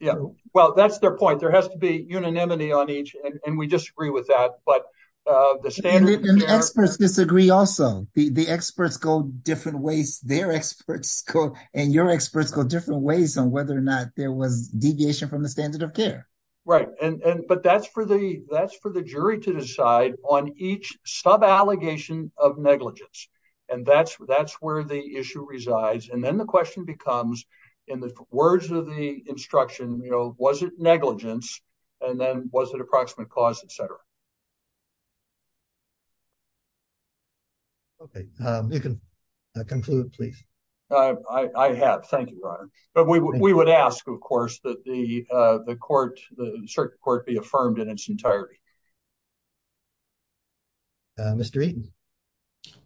Yeah. Well, that's their point. There has to be unanimity on each, and we disagree with that. But the standards- And the experts disagree also. The experts go different ways. Their experts go, and your experts go different ways on whether or not there was deviation from the standard of care. Right. But that's for the jury to decide on each sub-allegation of negligence. And that's where the issue resides. And then the question becomes, in the words of the instruction, was it negligence? And then was it approximate cause, et cetera? Okay. You can conclude, please. I have. Thank you, Brian. But we would ask, of course, that the court, the circuit court, be affirmed in its entirety. Mr. Eaton.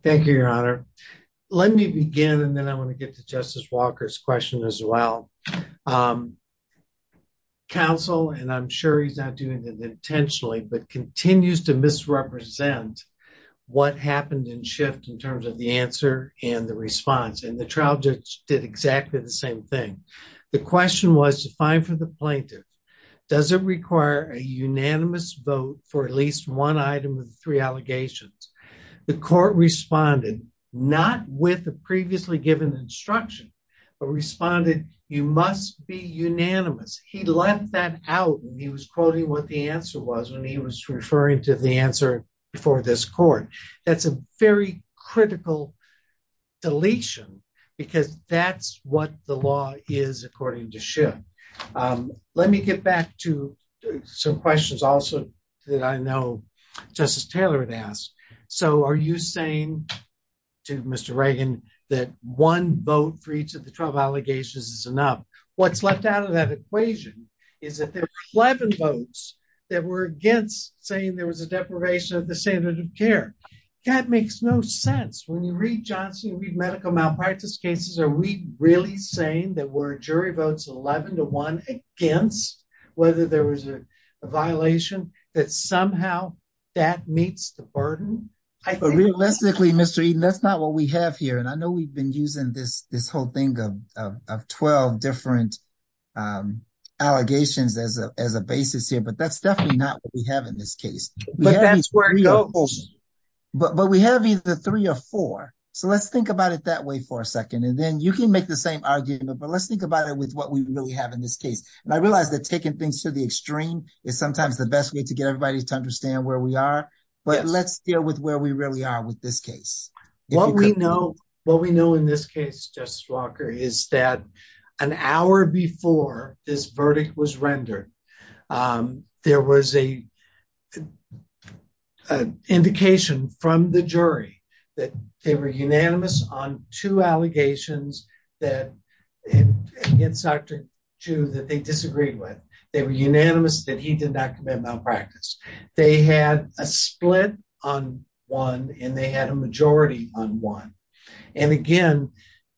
Thank you, Your Honor. Let me begin, and then I'm going to get to Justice Walker's question as well. Counsel, and I'm sure he's not doing this intentionally, but continues to misrepresent what happened in shift in terms of the answer and the response. And the trial did exactly the same thing. The question was, it's fine for the plaintiff. Does it require a unanimous vote for at least one item of three allegations? The court responded, not with the previously given instruction, but responded, you must be unanimous. He left that out when he was quoting what the answer was, when he was referring to the answer for this court. That's a very critical deletion because that's what the law is according to shift. Let me get back to some questions also that I know Justice Taylor had asked. So are you saying to Mr. Reagan that one vote for each of the 12 allegations is enough? What's left out of that equation is that there were 11 votes that were saying there was a deprivation of the statehood of care. That makes no sense. When you read Johnson, read medical malpractice cases, are we really saying that we're jury votes 11 to one against whether there was a violation that somehow that meets the burden? Realistically, Mr. Eden, that's not what we have here. And I know we've been using this whole thing of 12 different allegations as a basis here, but that's definitely not what we have in this case. But we have either three or four. So let's think about it that way for a second. And then you can make the same argument, but let's think about it with what we really have in this case. And I realize that taking things to the extreme is sometimes the best way to get everybody to understand where we are, but let's deal with where we really are with this case. What we know in this Justice Walker is that an hour before this verdict was rendered, there was a indication from the jury that they were unanimous on two allegations that they disagreed with. They were unanimous that he did not commit malpractice. They had a split on one and they agreed.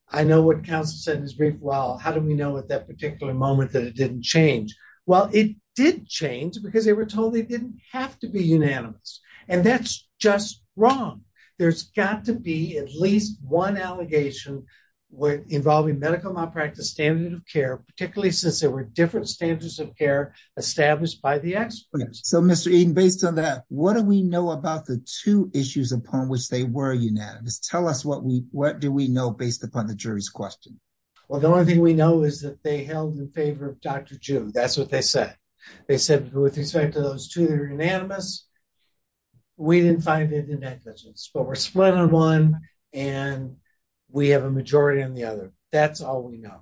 I know what counsel said in his brief, well, how do we know at that particular moment that it didn't change? Well, it did change because they were told they didn't have to be unanimous. And that's just wrong. There's got to be at least one allegation involving medical malpractice standard of care, particularly since there were different standards of care established by the experts. So Mr. Eden, based on that, what do we know about the two issues upon which they were unanimous? Tell us what do we know based upon the jury's question? Well, the only thing we know is that they held in favor of Dr. June. That's what they said. They said with respect to those two that are unanimous, we didn't find it in that instance, but we're split on one and we have a majority on the other. That's all we know.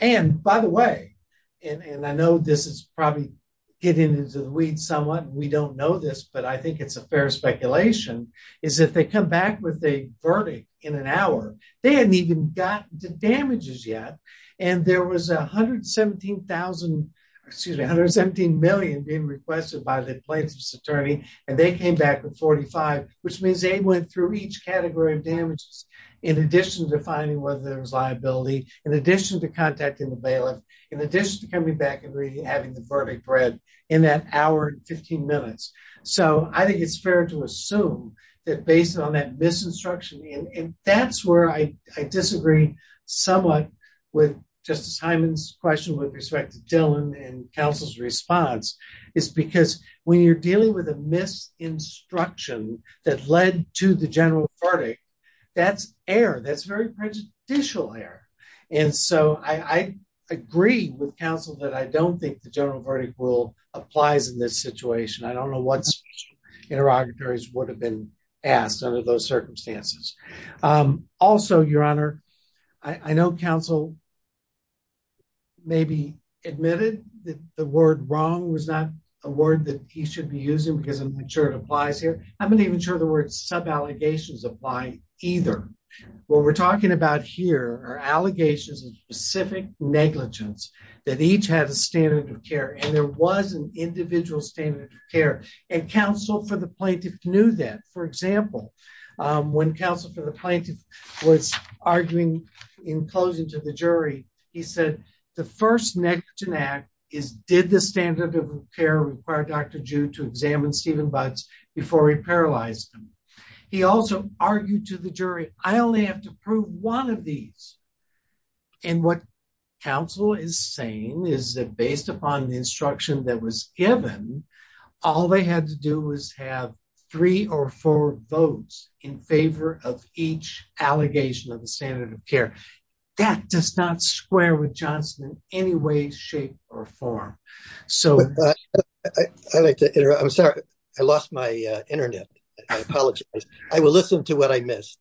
And by the way, and I know this is probably getting into the weeds somewhat, we don't know this, but I think it's a fair speculation, is that they come back with a verdict in an hour. They hadn't even got the damages yet. And there was 117,000, excuse me, 117 million being requested by the plaintiff's attorney. And they came back with 45, which means they went through each category of damages in addition to finding whether there was liability, in addition to contacting the bailiff, in addition to coming back and having the verdict read in that hour and 15 minutes. So I think it's fair to assume that based on that misinstruction, and that's where I disagree somewhat with Justice Hyman's question with respect to Dillon and counsel's response, is because when you're dealing with a misinstruction that led to the general verdict, that's error. That's very prejudicial error. And so I agree with counsel that I don't think the interrogatories would have been asked under those circumstances. Also, Your Honor, I know counsel maybe admitted that the word wrong was not a word that he should be using because I'm not sure it applies here. I'm not even sure the word sub-allegations apply either. What we're talking about here are allegations of specific negligence that each had a standard of care, and there was individual standard of care. And counsel for the plaintiff knew that. For example, when counsel for the plaintiff was arguing in closing to the jury, he said the first next to that is did the standard of care require Dr. Jew to examine Stephen Budds before he paralyzed him? He also argued to the jury, I only have to prove one of these. And what counsel is saying is that on the instruction that was given, all they had to do was have three or four votes in favor of each allegation of the standard of care. That does not square with Johnson in any way, shape, or form. I'm sorry, I lost my internet. I apologize. I will listen to what I missed.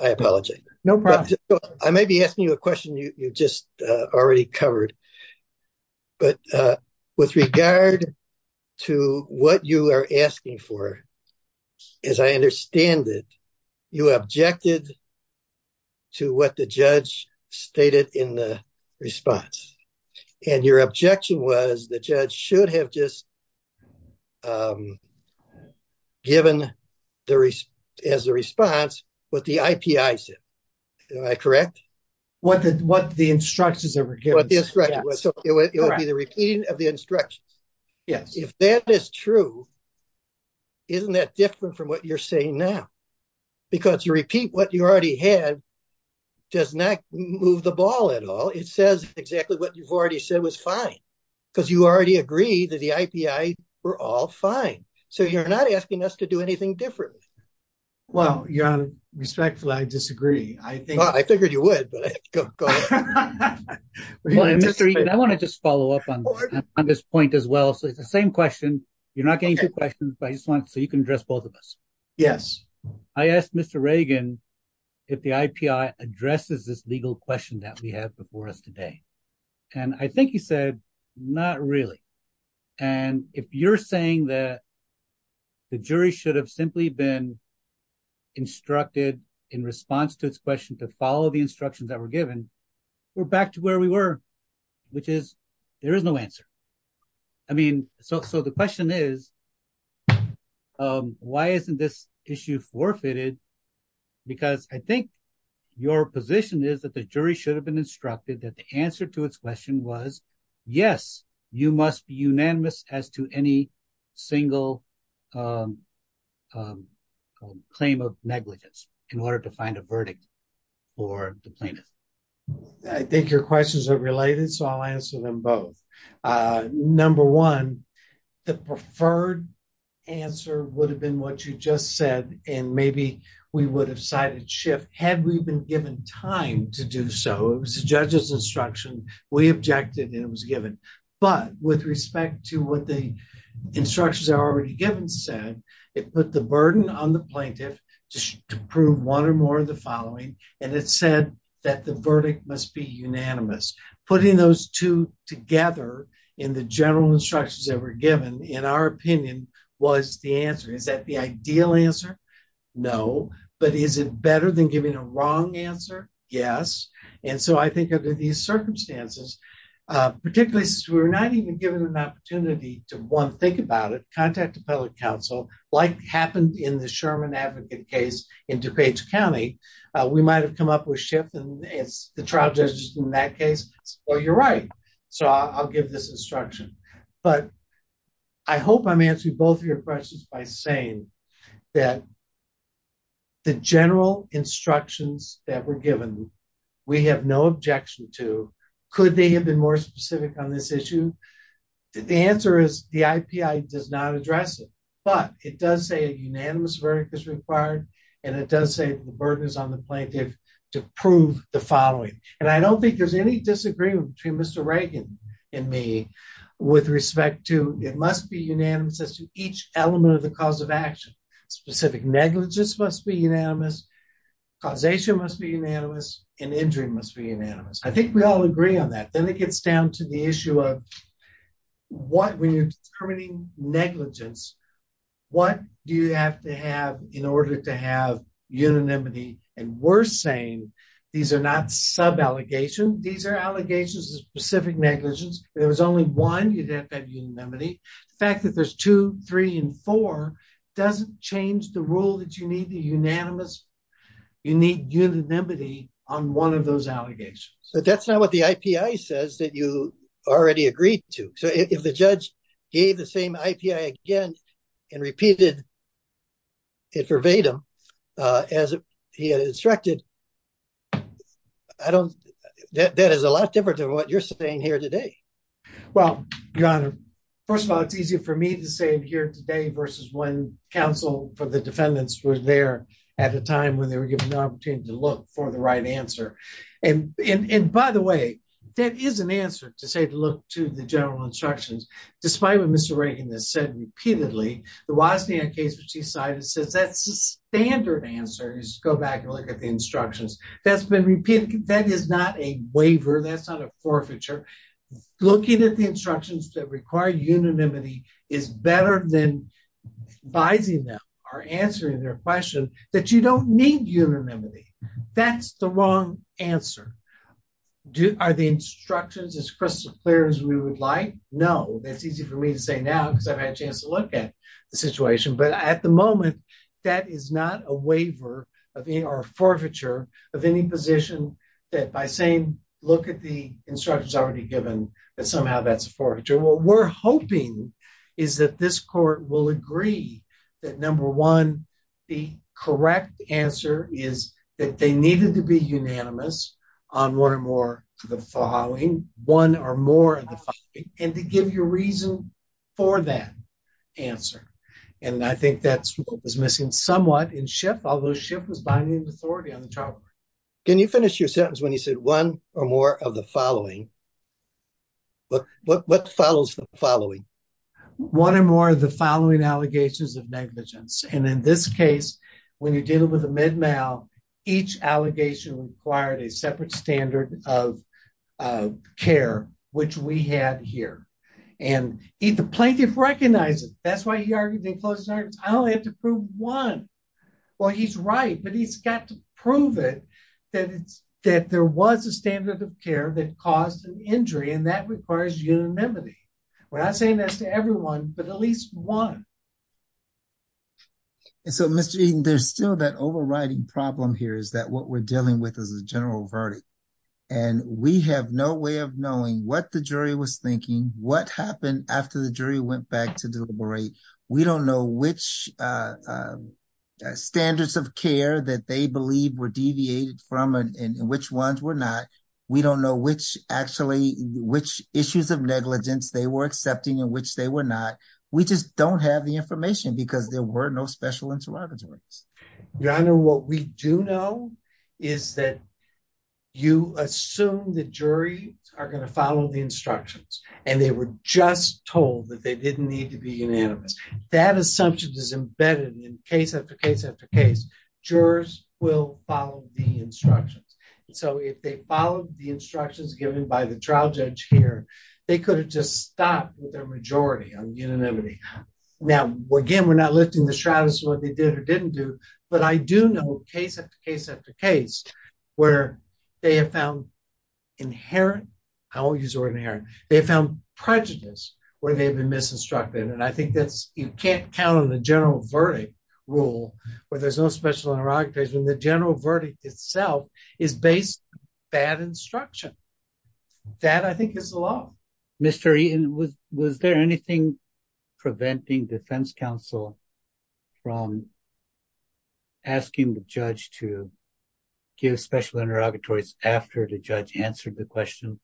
I apologize. No problem. I may be asking you a question you just already covered. But with regard to what you are asking for, as I understand it, you objected to what the judge stated in the response. And your objection was the judge should have just given as a response what the IPI said. Am I correct? What the instructions were given. What the instructions were. So it would be the repeating of the instructions. Yes. If that is true, isn't that different from what you're saying now? Because you repeat what you already had does not move the ball at all. It says exactly what you've already said was fine. Because you already agreed that the IPI were all fine. So you're not asking us to do anything different. Well, your honor, respectfully, I disagree. I figured you would, but I have to go. Mr. Egan, I want to just follow up on this point as well. So it's the same question. You're not getting two questions, but I just want so you can address both of us. Yes. I asked Mr. Reagan if the IPI addresses this legal question that we have before us today. And I think he said, not really. And if you're saying that the jury should have simply been instructed in response to its question to follow the instructions that were given, we're back to where we were, which is there is no answer. I mean, so the question is, why isn't this issue forfeited? Because I think your position is that the jury should have been instructed that the answer to its question was, yes, you must be unanimous as to any single claim of negligence in order to find a verdict for the plaintiff. I think your questions are related, so I'll answer them both. Number one, the preferred answer would have been what you just said. And maybe we would have cited shift had we been given time to do so. It was the judge's instruction. We objected and it was given. But with respect to what the instructions are already given said, it put the burden on the plaintiff to prove one or more of the following. And it said that the verdict must be unanimous. Putting those two together in the general instructions that were given, in our opinion, was the answer. Is that the ideal answer? No. But is it better than giving a wrong answer? Yes. And so I think under these circumstances, particularly since we were not even given an opportunity to, one, think about it, contact the public counsel, like happened in the Sherman Advocate case in DuPage County, we might have come up with shift and it's the trial judges in that case. Well, you're right. So I'll give this instruction. But I hope I'm answering both of your questions by saying that the general instructions that were given, we have no objection to. Could they have been more specific on this issue? The answer is the IPI does not address it, but it does say a unanimous verdict is required and it does say the burden is on the plaintiff to prove the following. And I don't think there's any disagreement between Mr. Reagan and me with respect to it must be unanimous as to each element of the cause of action. Specific negligence must be unanimous, causation must be unanimous, and injury must be unanimous. I think we all agree on that. Then it gets down to the issue of what we're determining negligence, what do you have to have in order to have unanimity? And we're saying these are not sub-allegations. These are allegations of specific negligence. There was only one, you didn't have unanimity. The fact that there's two, three, and four doesn't change the rule that you need the unanimous, you need unanimity on one of those allegations. So that's not what the IPI says that you already agreed to. So if the judge gave the same IPI again and repeated it verbatim as he had instructed, that is a lot different than what you're saying here today. Well, Your Honor, first of all, it's easier for me to say it here today versus when counsel for the defendants was there at the time when they were given the opportunity to look for the right answer. And by the way, that is an answer to say to look to the general instructions. Despite what Mr. Reagan has said repeatedly, the Waddesdon case, which he cited, says that the standard answer is go back and look at the instructions. That's been repeated. That is not a waiver. That's not a forfeiture. Looking at the instructions that require unanimity is better than biding them or answering their question that you don't need unanimity. That's the wrong answer. Are the instructions as crystal clear as we would like? No. That's easy for me to say now because I've had a chance to look at the situation. But at the moment, that is not a waiver or a forfeiture of any position that by saying look at the instructions already given, that somehow that's a forfeiture. What we're hoping is that this court will agree that number one, the correct answer is that they needed to be unanimous on more and more of the following, one or more of the following, and to give you a reason for that answer. And I think that's what was missing somewhat in Schiff, although Schiff was binding the authority on the trial. Can you finish your sentence when you said one or more of the following? What follows the following? One or more of the following allegations of negligence. And in this case, when you're dealing with a mid-male, each allegation required a separate standard of care, which we have here. And the plaintiff recognizes it. That's why he argued they closed the sentence. I only had to prove one. Well, he's right, but he's got to prove it, that there was a standard of care that caused an injury, and that requires unanimity. We're not saying that to everyone, but at least one. And so, Mr. Eaton, there's still that overriding problem here, is that what we're dealing with is a general verdict. And we have no way of knowing what the jury was thinking, what happened after the jury went back to deliberate. We don't know which standards of care that they believed were deviated from and which ones were not. We don't know which issues of negligence they were accepting and which they were not. We just don't have the information, because there were no special insurrections. Your Honor, what we do know is that you assume the jury are going to follow the instructions, and they were just told that they didn't need to be unanimous. That assumption is embedded in case after case after case. Jurors will follow the instructions. So if they followed the instructions given by the trial judge here, they could have just stopped with a majority on unanimity. Now, again, we're not listing the stratus, what they did or didn't do, but I do know case after case after case where they have found inherent, I won't use the word inherent, they have found prejudice where they have been misinstructed. And I think that you can't count on the general verdict rule where there's no special interrogatories, and the general verdict itself is based on bad instruction. That, I think, is the law. Mr. Eaton, was there anything preventing defense counsel from asking the judge to give special interrogatories after the judge answered the question?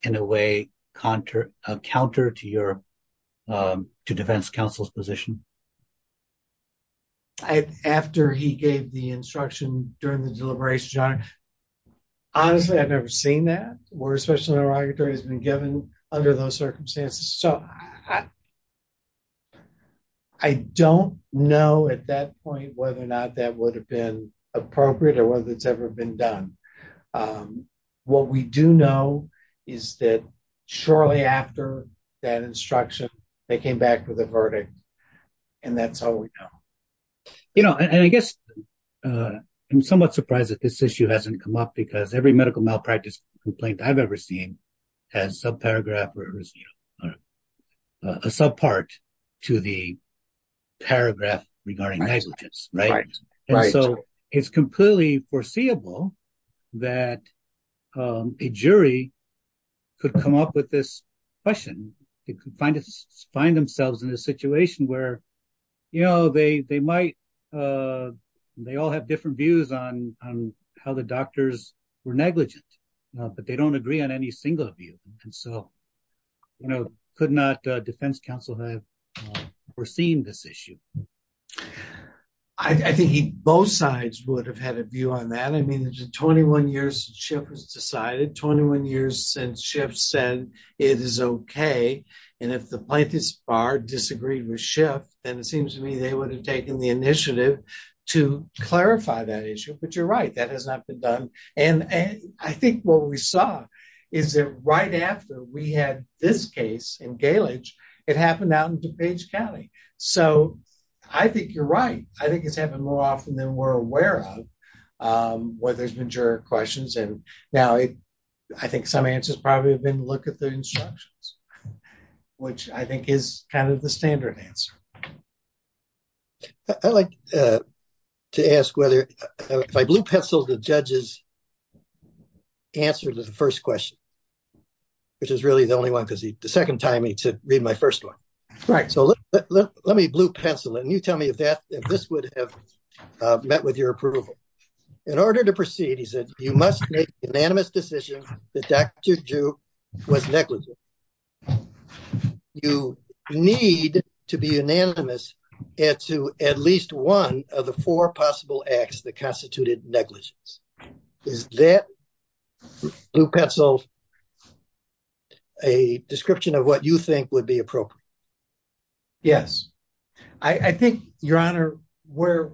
In a way, counter to defense counsel's position? After he gave the instruction during the deliberation, honestly, I've never seen that, where a special interrogatory has been given under those circumstances. So I don't know at that point whether or not that would have been appropriate or whether it's ever been done. And what we do know is that shortly after that instruction, they came back with a verdict, and that's how we know. You know, and I guess I'm somewhat surprised that this issue hasn't come up because every medical malpractice complaint I've ever seen has a subparagraph or a subpart to the paragraph regarding negligence, right? Right, right. It's completely foreseeable that a jury could come up with this question. They could find themselves in a situation where, you know, they all have different views on how the doctors were negligent, but they don't agree on any single view. And so, you know, could not defense counsel have foreseen this issue? I think both sides would have had a view on that. I mean, it's been 21 years since SHIP was decided, 21 years since SHIP said it is okay, and if the plaintiff's bar disagreed with SHIP, then it seems to me they would have taken the initiative to clarify that issue. But you're right, that has not been done. And I think what we saw is that right after we had this case in Gale Ridge, it happened out in DuPage County. So I think you're right. I think it's happened more often than we're aware of where there's been juror questions. And now I think some answers probably have been look at the instructions, which I think is kind of the standard answer. I'd like to ask whether, if I blue pencil the judge's answer to the first question, which is really the only one, because the second time he said read my first one. All right, so let me blue pencil, and you tell me if this would have met with your approval. In order to proceed, he said, you must make an unanimous decision that Dr. Duke was negligent. You need to be unanimous to at least one of the four possible acts that constituted negligence. Is that blue pencil a description of what you think would be appropriate? Yes, I think, Your Honor, where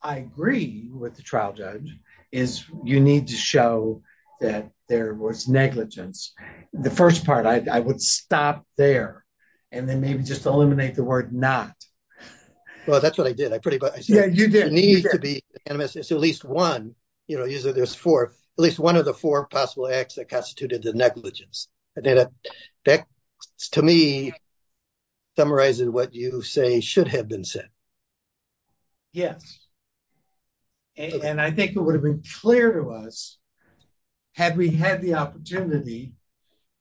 I agree with the trial judge is you need to show that there was negligence. The first part, I would stop there and then maybe just eliminate the word not. Well, that's what I did. I put it, but there needs to be at least one, you know, usually there's four, at least one of the four possible acts that constituted the negligence. That, to me, summarizes what you say should have been said. Yes, and I think it would have been clear to us had we had the opportunity,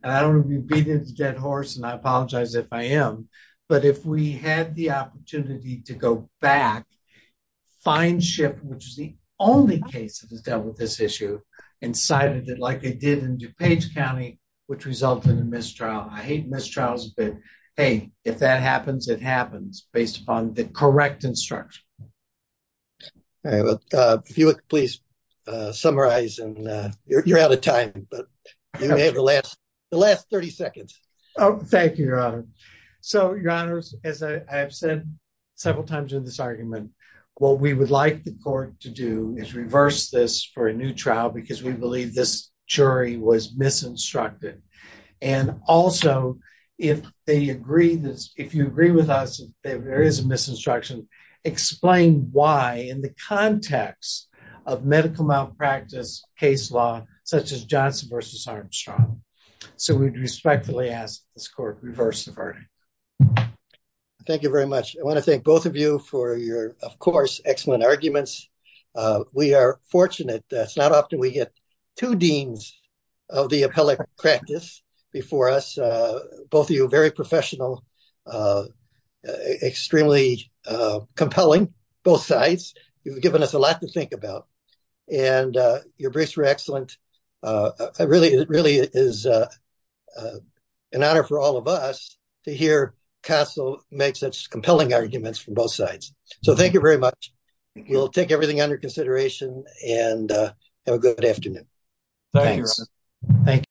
and I don't want to be beating a dead horse, and I apologize if I am, but if we had the opportunity to go back, find Schiff, which is the only case that dealt with this issue and cited it like they did in DuPage County, which resulted in a mistrial. I hate mistrials, but, hey, if that happens, it happens based upon the correct instruction. All right, if you would please summarize, and you're out of time, but you may have the last 30 seconds. Oh, thank you, Your Honor. So, Your Honor, as I've said several times in this argument, what we would like the court to do is reverse this for a new trial because we believe this jury was misinstructed. And also, if they agree, if you agree with us that there is a misinstruction, explain why, in the context of medical malpractice case law, such as Johnson v. Armstrong. So, we respectfully ask this court to reverse the verdict. Thank you very much. I want to thank both of you for your, of course, excellent arguments. We are fortunate. It's not often we get two deans of the appellate practice before us. Both of you are very professional, extremely compelling, both sides. You've given us a lot to think about. And your briefs were excellent. It really is an honor for all of us to hear Castle make such compelling arguments from both sides. So, thank you very much. You'll take everything under consideration, and have a good afternoon. Thank you.